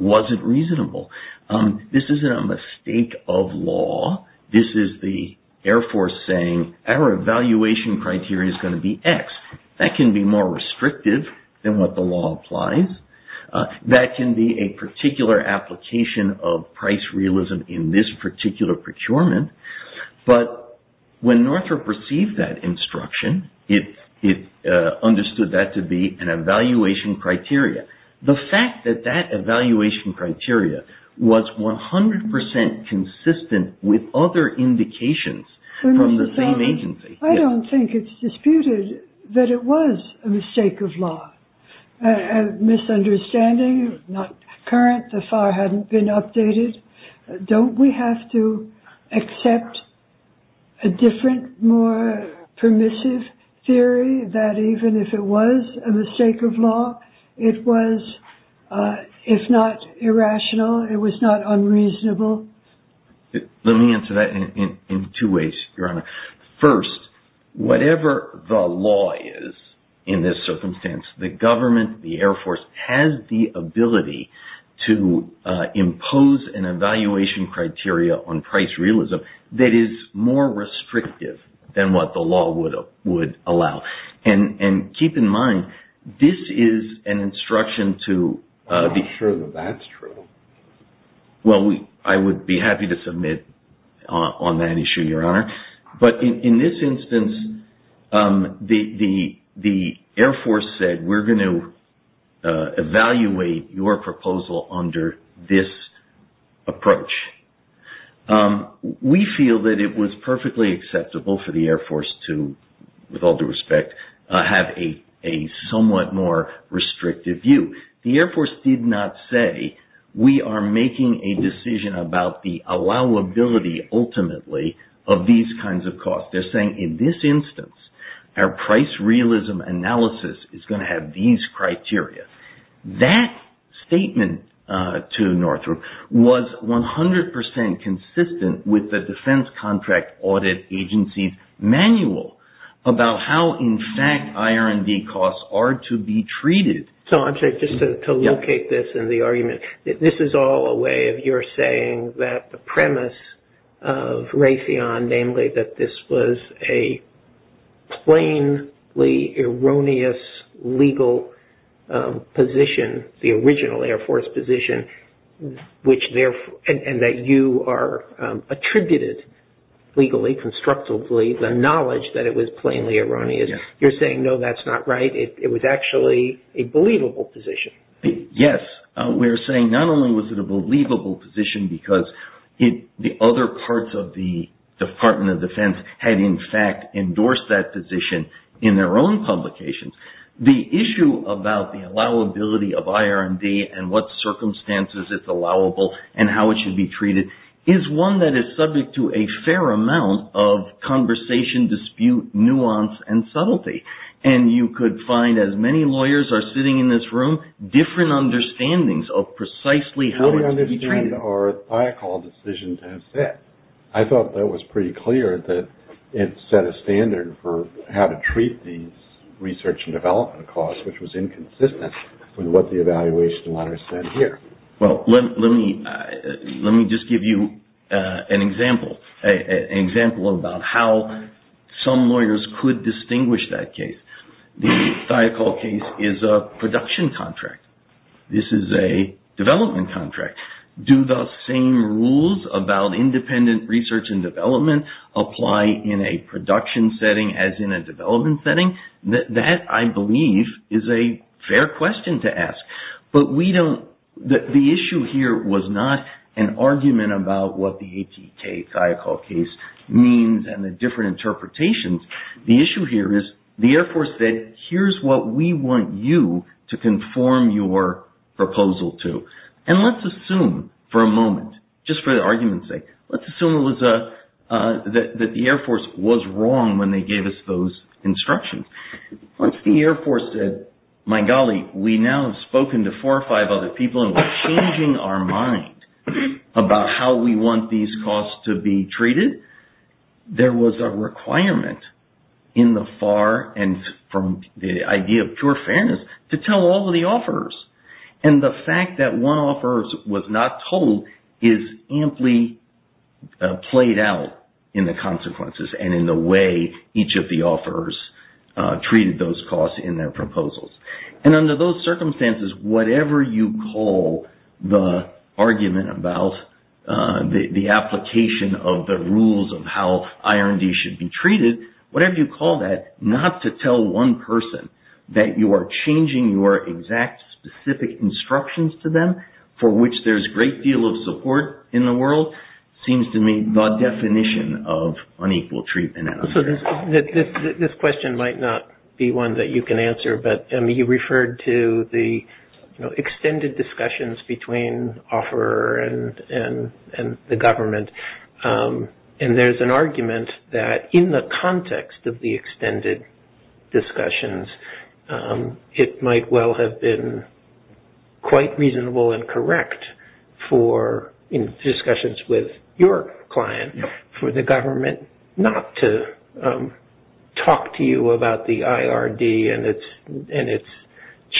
wasn't reasonable. This isn't a mistake of law. This is the Air Force saying our evaluation criteria is going to be X. That can be more restrictive than what the law applies. That can be a particular application of price realism in this particular procurement. But when Northrop received that instruction, it understood that to be an evaluation criteria. The fact that that evaluation criteria was 100% consistent with other indications from the same agency. I don't think it's disputed that it was a mistake of law. A misunderstanding, not current, the FAR hadn't been updated. Don't we have to accept a different, more permissive theory that even if it was a mistake of law, it was, if not irrational, it was not unreasonable? Let me answer that in two ways, Your Honor. First, whatever the law is in this circumstance, the government, the Air Force, has the ability to impose an evaluation criteria on price realism that is more restrictive than what the law would allow. And keep in mind, this is an instruction to be sure that that's true. Well, I would be happy to submit on that issue, Your Honor. But in this instance, the Air Force said, we're going to evaluate your proposal under this approach. We feel that it was perfectly acceptable for the Air Force to, with all due respect, have a somewhat more restrictive view. The Air Force did not say, we are making a decision about the allowability, ultimately, of these kinds of costs. They're saying, in this instance, our price realism analysis is going to have these criteria. That statement to Northrop was 100% consistent with the Defense Contract Audit Agency's manual about how, in fact, IR&D costs are to be treated. So, I'm sorry, just to locate this in the argument. This is all a way of your saying that the premise of Raytheon, namely, that this was a plainly erroneous legal position, the original Air Force position, and that you are attributed, legally, constructively, the knowledge that it was plainly erroneous. You're saying, no, that's not right. It was actually a believable position. Yes. We're saying not only was it a believable position because the other parts of the Department of Defense had, in fact, endorsed that position in their own publications. The issue about the allowability of IR&D and what circumstances it's allowable and how it should be treated is one that is subject to a fair amount of conversation, dispute, nuance, and subtlety. And you could find, as many lawyers are sitting in this room, different understandings of precisely how it's to be treated. How do we understand our THIACOL decisions as set? I thought that was pretty clear that it set a standard for how to treat these research and development costs, which was inconsistent with what the evaluation letters said here. Let me just give you an example about how some lawyers could distinguish that case. The THIACOL case is a production contract. This is a development contract. Do the same rules about independent research and development apply in a production setting as in a development setting? The issue here was not an argument about what the ATK THIACOL case means and the different interpretations. The issue here is the Air Force said, here's what we want you to conform your proposal to. And let's assume for a moment, just for the argument's sake, let's assume that the Air Force was wrong when they gave us those instructions. Once the Air Force said, my golly, we now have spoken to four or five other people and we're changing our mind about how we want these costs to be treated, there was a requirement in the far end from the idea of pure fairness to tell all of the offerors. And the fact that one offeror was not told is amply played out in the consequences and in the way each of the offerors treated those costs in their proposals. And under those circumstances, whatever you call the argument about the application of the rules of how IR&D should be treated, whatever you call that, not to tell one person that you are changing your exact specific instructions to them for which there's a great deal of support in the world, that seems to me the definition of unequal treatment. This question might not be one that you can answer, but you referred to the extended discussions between offeror and the government. And there's an argument that in the context of the extended discussions, it might well have been quite reasonable and correct for in discussions with your client for the government not to talk to you about the IR&D and its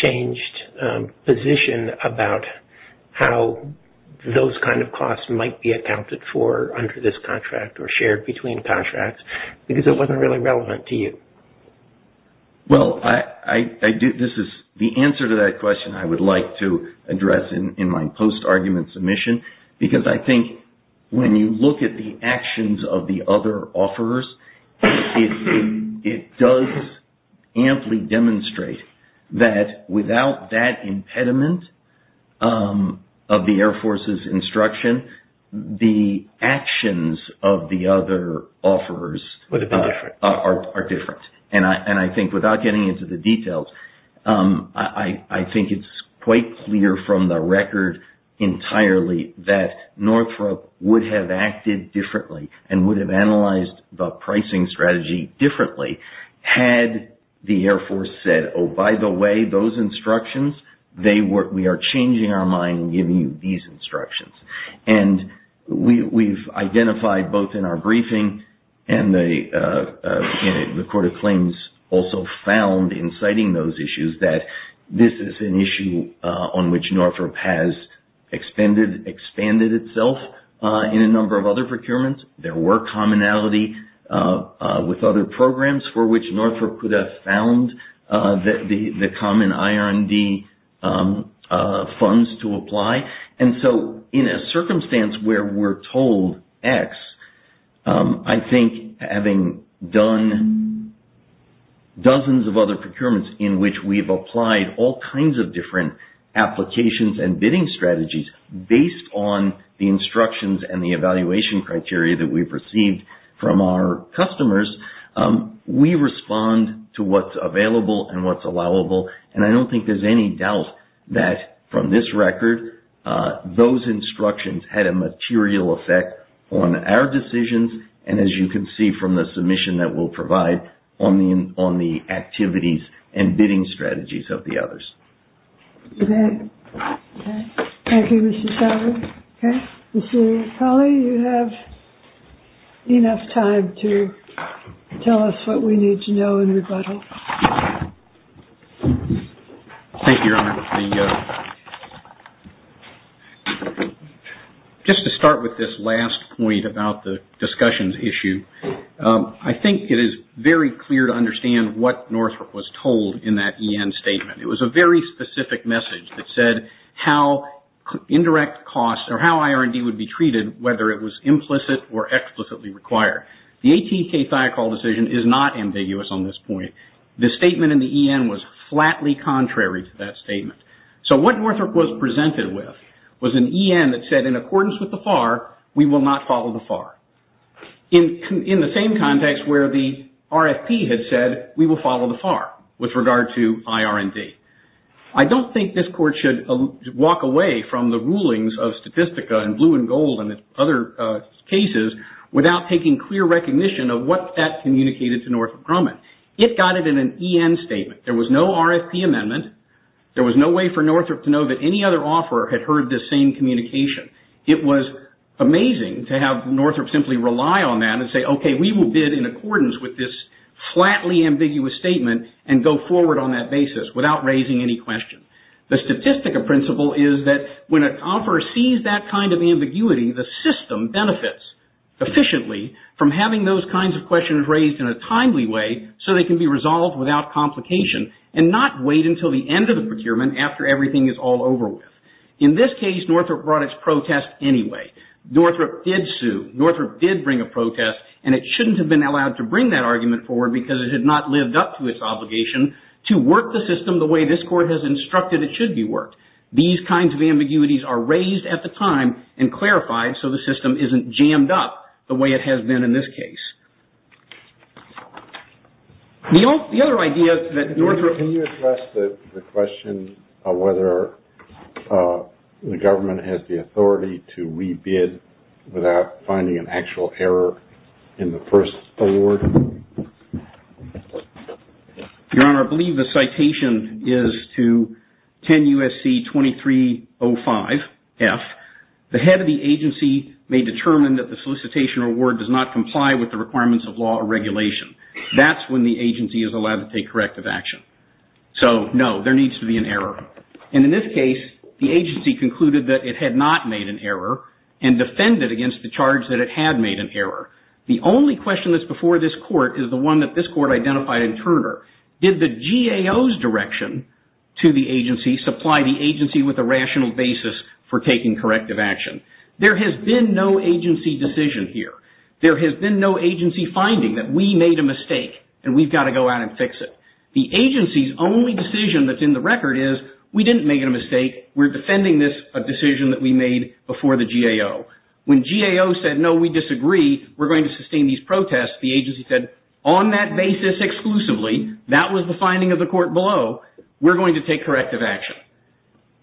changed position about how those kind of costs might be accounted for under this contract or shared between contracts because it wasn't really relevant to you. Well, the answer to that question I would like to address in my post-argument submission because I think when you look at the actions of the other offerors, it does amply demonstrate that without that impediment of the Air Force's instruction, the actions of the other offerors are different. And I think without getting into the details, I think it's quite clear from the record entirely that Northrop would have acted differently and would have analyzed the pricing strategy differently had the Air Force said, oh, by the way, those instructions, we are changing our mind and giving you these instructions. And we've identified both in our briefing and the Court of Claims also found in citing those issues that this is an issue on which Northrop has expanded itself in a number of other procurements. There were commonality with other programs for which Northrop could have found the common IR&D funds to apply. And so, in a circumstance where we're told X, I think having done dozens of other procurements in which we've applied all kinds of different applications and bidding strategies based on the instructions and the evaluation criteria that we've received from our customers, we respond to what's available and what's allowable. And I don't think there's any doubt that from this record, those instructions had a material effect on our decisions. And as you can see from the submission that we'll provide on the activities and bidding strategies of the others. Okay. Thank you, Mr. Sauer. Okay. Mr. Colley, you have enough time to tell us what we need to know in rebuttal. Thank you, Your Honor. Just to start with this last point about the discussions issue, I think it is very clear to understand what Northrop was told in that EN statement. It was a very specific message that said how indirect costs or how IR&D would be treated, whether it was implicit or explicitly required. The ATK-Thiokol decision is not ambiguous on this point. The statement in the EN was flatly contrary to that statement. So, what Northrop was presented with was an EN that said in accordance with the FAR, we will not follow the FAR. In the same context where the RFP had said we will follow the FAR with regard to IR&D. I don't think this Court should walk away from the rulings of Statistica and Blue and Gold and other cases without taking clear recognition of what that communicated to Northrop Grumman. It got it in an EN statement. There was no RFP amendment. There was no way for Northrop to know that any other offeror had heard this same communication. It was amazing to have Northrop simply rely on that and say, okay, we will bid in accordance with this flatly ambiguous statement and go forward on that basis without raising any question. The Statistica principle is that when an offeror sees that kind of ambiguity, the system benefits efficiently from having those kinds of questions raised in a timely way so they can be resolved without complication and not wait until the end of the procurement after everything is all over with. In this case, Northrop brought its protest anyway. Northrop did sue. Northrop did bring a protest, and it shouldn't have been allowed to bring that argument forward because it had not lived up to its obligation to work the system the way this Court has instructed it should be worked. These kinds of ambiguities are raised at the time and clarified so the system isn't jammed up the way it has been in this case. The other idea that Northrop... Can you address the question of whether the government has the authority to re-bid without finding an actual error in the first award? Your Honor, I believe the citation is to 10 U.S.C. 2305F. The head of the agency may determine that the solicitation award does not comply with the requirements of law or regulation. That's when the agency is allowed to take corrective action. So, no, there needs to be an error. And in this case, the agency concluded that it had not made an error and defended against the charge that it had made an error. The only question that's before this Court is the one that this Court identified in Turner. Did the GAO's direction to the agency supply the agency with a rational basis for taking corrective action? There has been no agency decision here. There has been no agency finding that we made a mistake and we've got to go out and fix it. The agency's only decision that's in the record is, we didn't make a mistake, we're defending this decision that we made before the GAO. When GAO said, no, we disagree, we're going to sustain these protests, the agency said, on that basis exclusively, that was the finding of the Court below, we're going to take corrective action.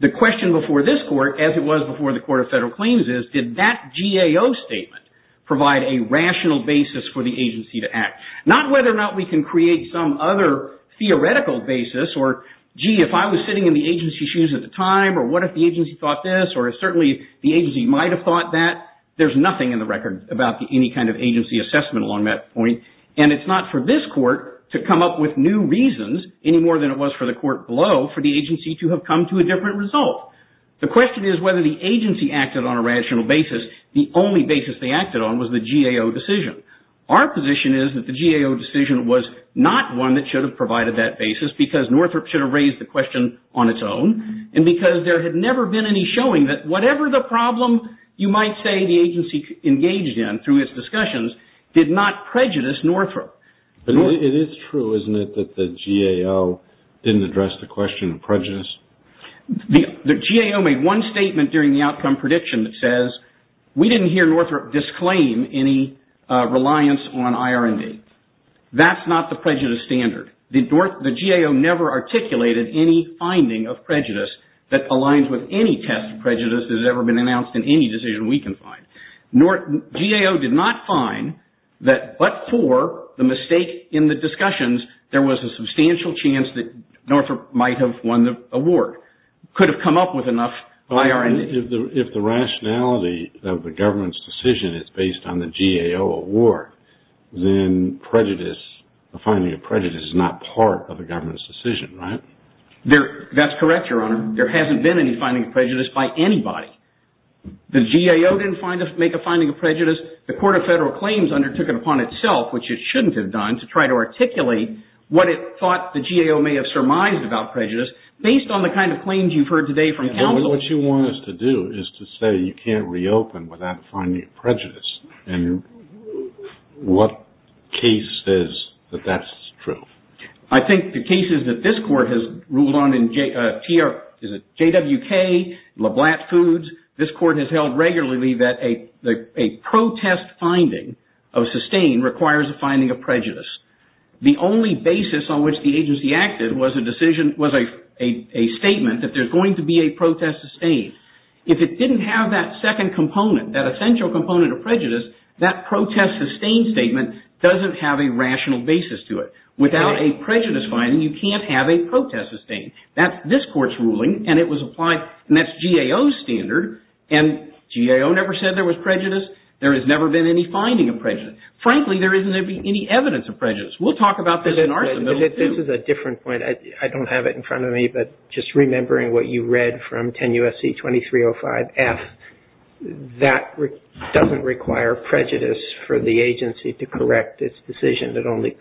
The question before this Court, as it was before the Court of Federal Claims, is, did that GAO statement provide a rational basis for the agency to act? Not whether or not we can create some other theoretical basis, or, gee, if I was sitting in the agency's shoes at the time, or what if the agency thought this, or certainly the agency might have thought that. There's nothing in the record about any kind of agency assessment along that point. And it's not for this Court to come up with new reasons, any more than it was for the Court below, for the agency to have come to a different result. The question is whether the agency acted on a rational basis. The only basis they acted on was the GAO decision. Our position is that the GAO decision was not one that should have provided that basis, because Northrop should have raised the question on its own, and because there had never been any showing that whatever the problem you might say the agency engaged in through its discussions did not prejudice Northrop. It is true, isn't it, that the GAO didn't address the question of prejudice? The GAO made one statement during the outcome prediction that says, we didn't hear Northrop disclaim any reliance on IR&D. That's not the prejudice standard. The GAO never articulated any finding of prejudice that aligns with any test of prejudice that has ever been announced in any decision we can find. GAO did not find that but for the mistake in the discussions, there was a substantial chance that Northrop might have won the award, could have come up with enough IR&D. If the rationality of the government's decision is based on the GAO award, then prejudice, finding of prejudice, is not part of the government's decision, right? That's correct, Your Honor. There hasn't been any finding of prejudice by anybody. The GAO didn't make a finding of prejudice. The Court of Federal Claims undertook it upon itself, which it shouldn't have done, to try to articulate what it thought the GAO may have surmised about prejudice, based on the kind of claims you've heard today from counsel. What you want us to do is to say you can't reopen without finding of prejudice. And what case says that that's true? I think the cases that this Court has ruled on in JWK, LeBlanc Foods, this Court has held regularly that a protest finding of sustained requires a finding of prejudice. The only basis on which the agency acted was a statement that there's going to be a protest sustained. If it didn't have that second component, that essential component of prejudice, that protest sustained statement doesn't have a rational basis to it. Without a prejudice finding, you can't have a protest sustained. That's this Court's ruling, and it was applied, and that's GAO's standard. And GAO never said there was prejudice. There has never been any finding of prejudice. Frankly, there isn't any evidence of prejudice. We'll talk about this in our submission, too. This is a different point. I don't have it in front of me, but just remembering what you read from 10 U.S.C. 2305F, that doesn't require prejudice for the agency to correct its decision. It only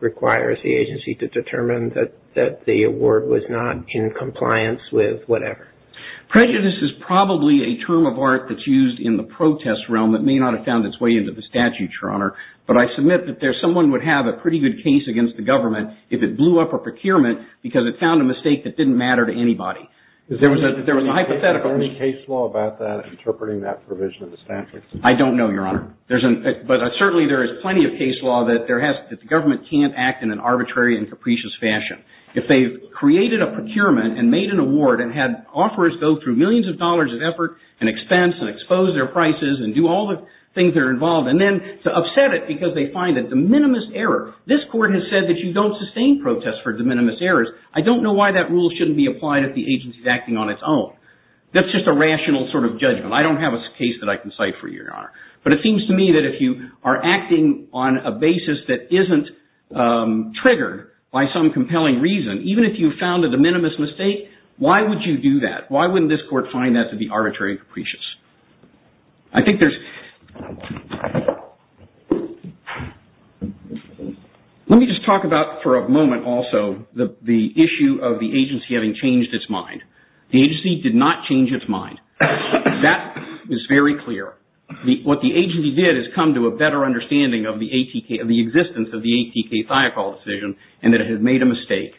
requires the agency to determine that the award was not in compliance with whatever. Prejudice is probably a term of art that's used in the protest realm that may not have found its way into the statute, Your Honor. But I submit that someone would have a pretty good case against the government if it blew up a procurement because it found a mistake that didn't matter to anybody. There was a hypothetical. Is there any case law about that, interpreting that provision of the statute? I don't know, Your Honor. But certainly there is plenty of case law that the government can't act in an arbitrary and capricious fashion. If they've created a procurement and made an award and had offers go through millions of dollars of effort and expense and expose their prices and do all the things that are involved and then to upset it because they find a de minimis error. This Court has said that you don't sustain protests for de minimis errors. I don't know why that rule shouldn't be applied if the agency is acting on its own. That's just a rational sort of judgment. I don't have a case that I can cite for you, Your Honor. But it seems to me that if you are acting on a basis that isn't triggered by some compelling reason, even if you found a de minimis mistake, why would you do that? Why wouldn't this Court find that to be arbitrary and capricious? Let me just talk about for a moment also the issue of the agency having changed its mind. The agency did not change its mind. That is very clear. What the agency did is come to a better understanding of the existence of the ATK-Thiokol decision and that it had made a mistake.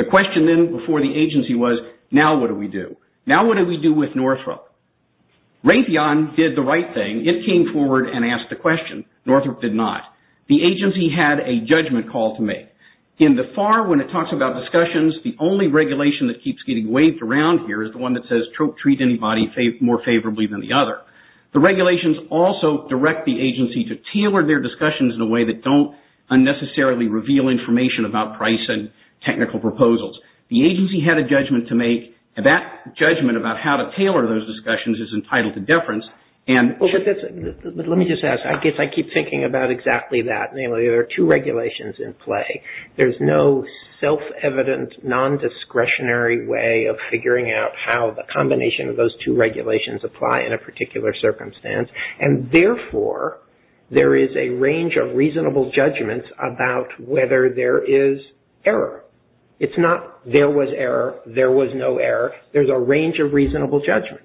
The question then before the agency was, now what do we do? Now what do we do with Northrop? Raytheon did the right thing. It came forward and asked the question. Northrop did not. The agency had a judgment call to make. In the FAR, when it talks about discussions, the only regulation that keeps getting waved around here is the one that says treat anybody more favorably than the other. The regulations also direct the agency to tailor their discussions in a way that don't unnecessarily reveal information about price and technical proposals. The agency had a judgment to make. That judgment about how to tailor those discussions is entitled to deference. Let me just ask. I keep thinking about exactly that. Namely, there are two regulations in play. There's no self-evident, non-discretionary way of figuring out how the combination of those two regulations apply in a particular circumstance. And therefore, there is a range of reasonable judgments about whether there is error. It's not there was error, there was no error. There's a range of reasonable judgments.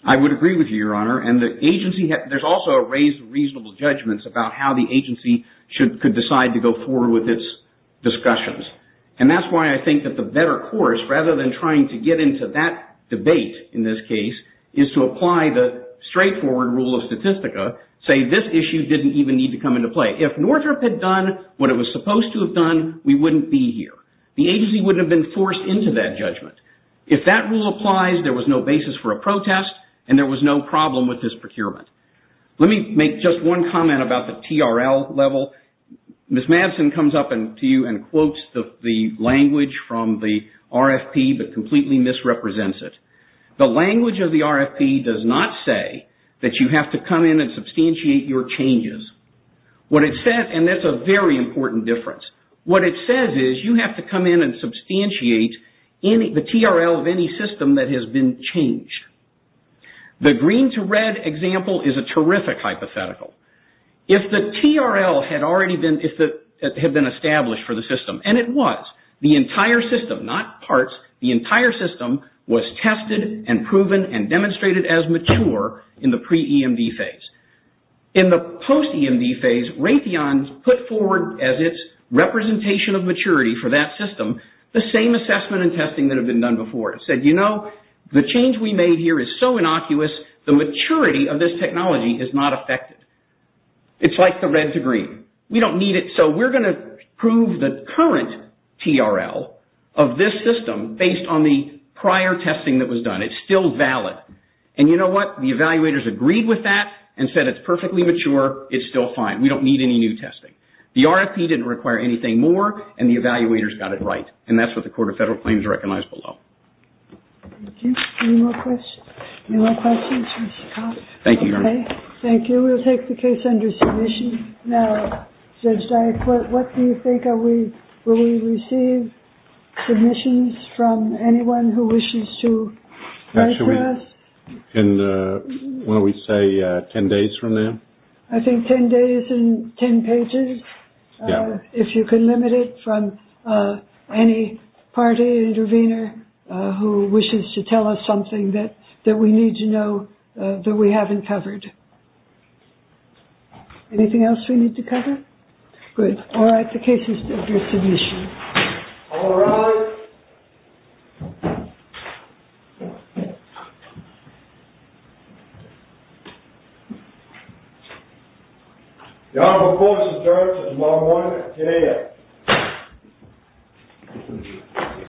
I would agree with you, Your Honor. And the agency has also raised reasonable judgments about how the agency could decide to go forward with its discussions. And that's why I think that the better course, rather than trying to get into that debate in this case, is to apply the straightforward rule of Statistica, say this issue didn't even need to come into play. If Northrop had done what it was supposed to have done, we wouldn't be here. The agency wouldn't have been forced into that judgment. If that rule applies, there was no basis for a protest, and there was no problem with this procurement. Let me make just one comment about the TRL level. Ms. Madsen comes up to you and quotes the language from the RFP, but completely misrepresents it. The language of the RFP does not say that you have to come in and substantiate your changes. What it says, and that's a very important difference, what it says is you have to come in and substantiate the TRL of any system that has been changed. The green to red example is a terrific hypothetical. If the TRL had already been established for the system, and it was, the entire system, not parts, the entire system was tested and proven and demonstrated as mature in the pre-EMD phase. In the post-EMD phase, Raytheon put forward as its representation of maturity for that system the same assessment and testing that had been done before. It said, you know, the change we made here is so innocuous, the maturity of this technology is not affected. It's like the red to green. We don't need it. So we're going to prove the current TRL of this system based on the prior testing that was done. It's still valid. And you know what? The evaluators agreed with that and said it's perfectly mature. It's still fine. We don't need any new testing. The RFP didn't require anything more, and the evaluators got it right. And that's what the Court of Federal Claims recognized below. Thank you. Any more questions? Any more questions? Thank you, Your Honor. Thank you. We will take the case under submission now. Judge Dyack, what do you think? Will we receive submissions from anyone who wishes to write to us? And what do we say, 10 days from now? I think 10 days and 10 pages, if you can limit it, from any party intervener who wishes to tell us something that we need to know that we haven't covered. Anything else we need to cover? Good. All right. The case is under submission. All rise. Your Honor, the court is adjourned until tomorrow morning at 10 a.m.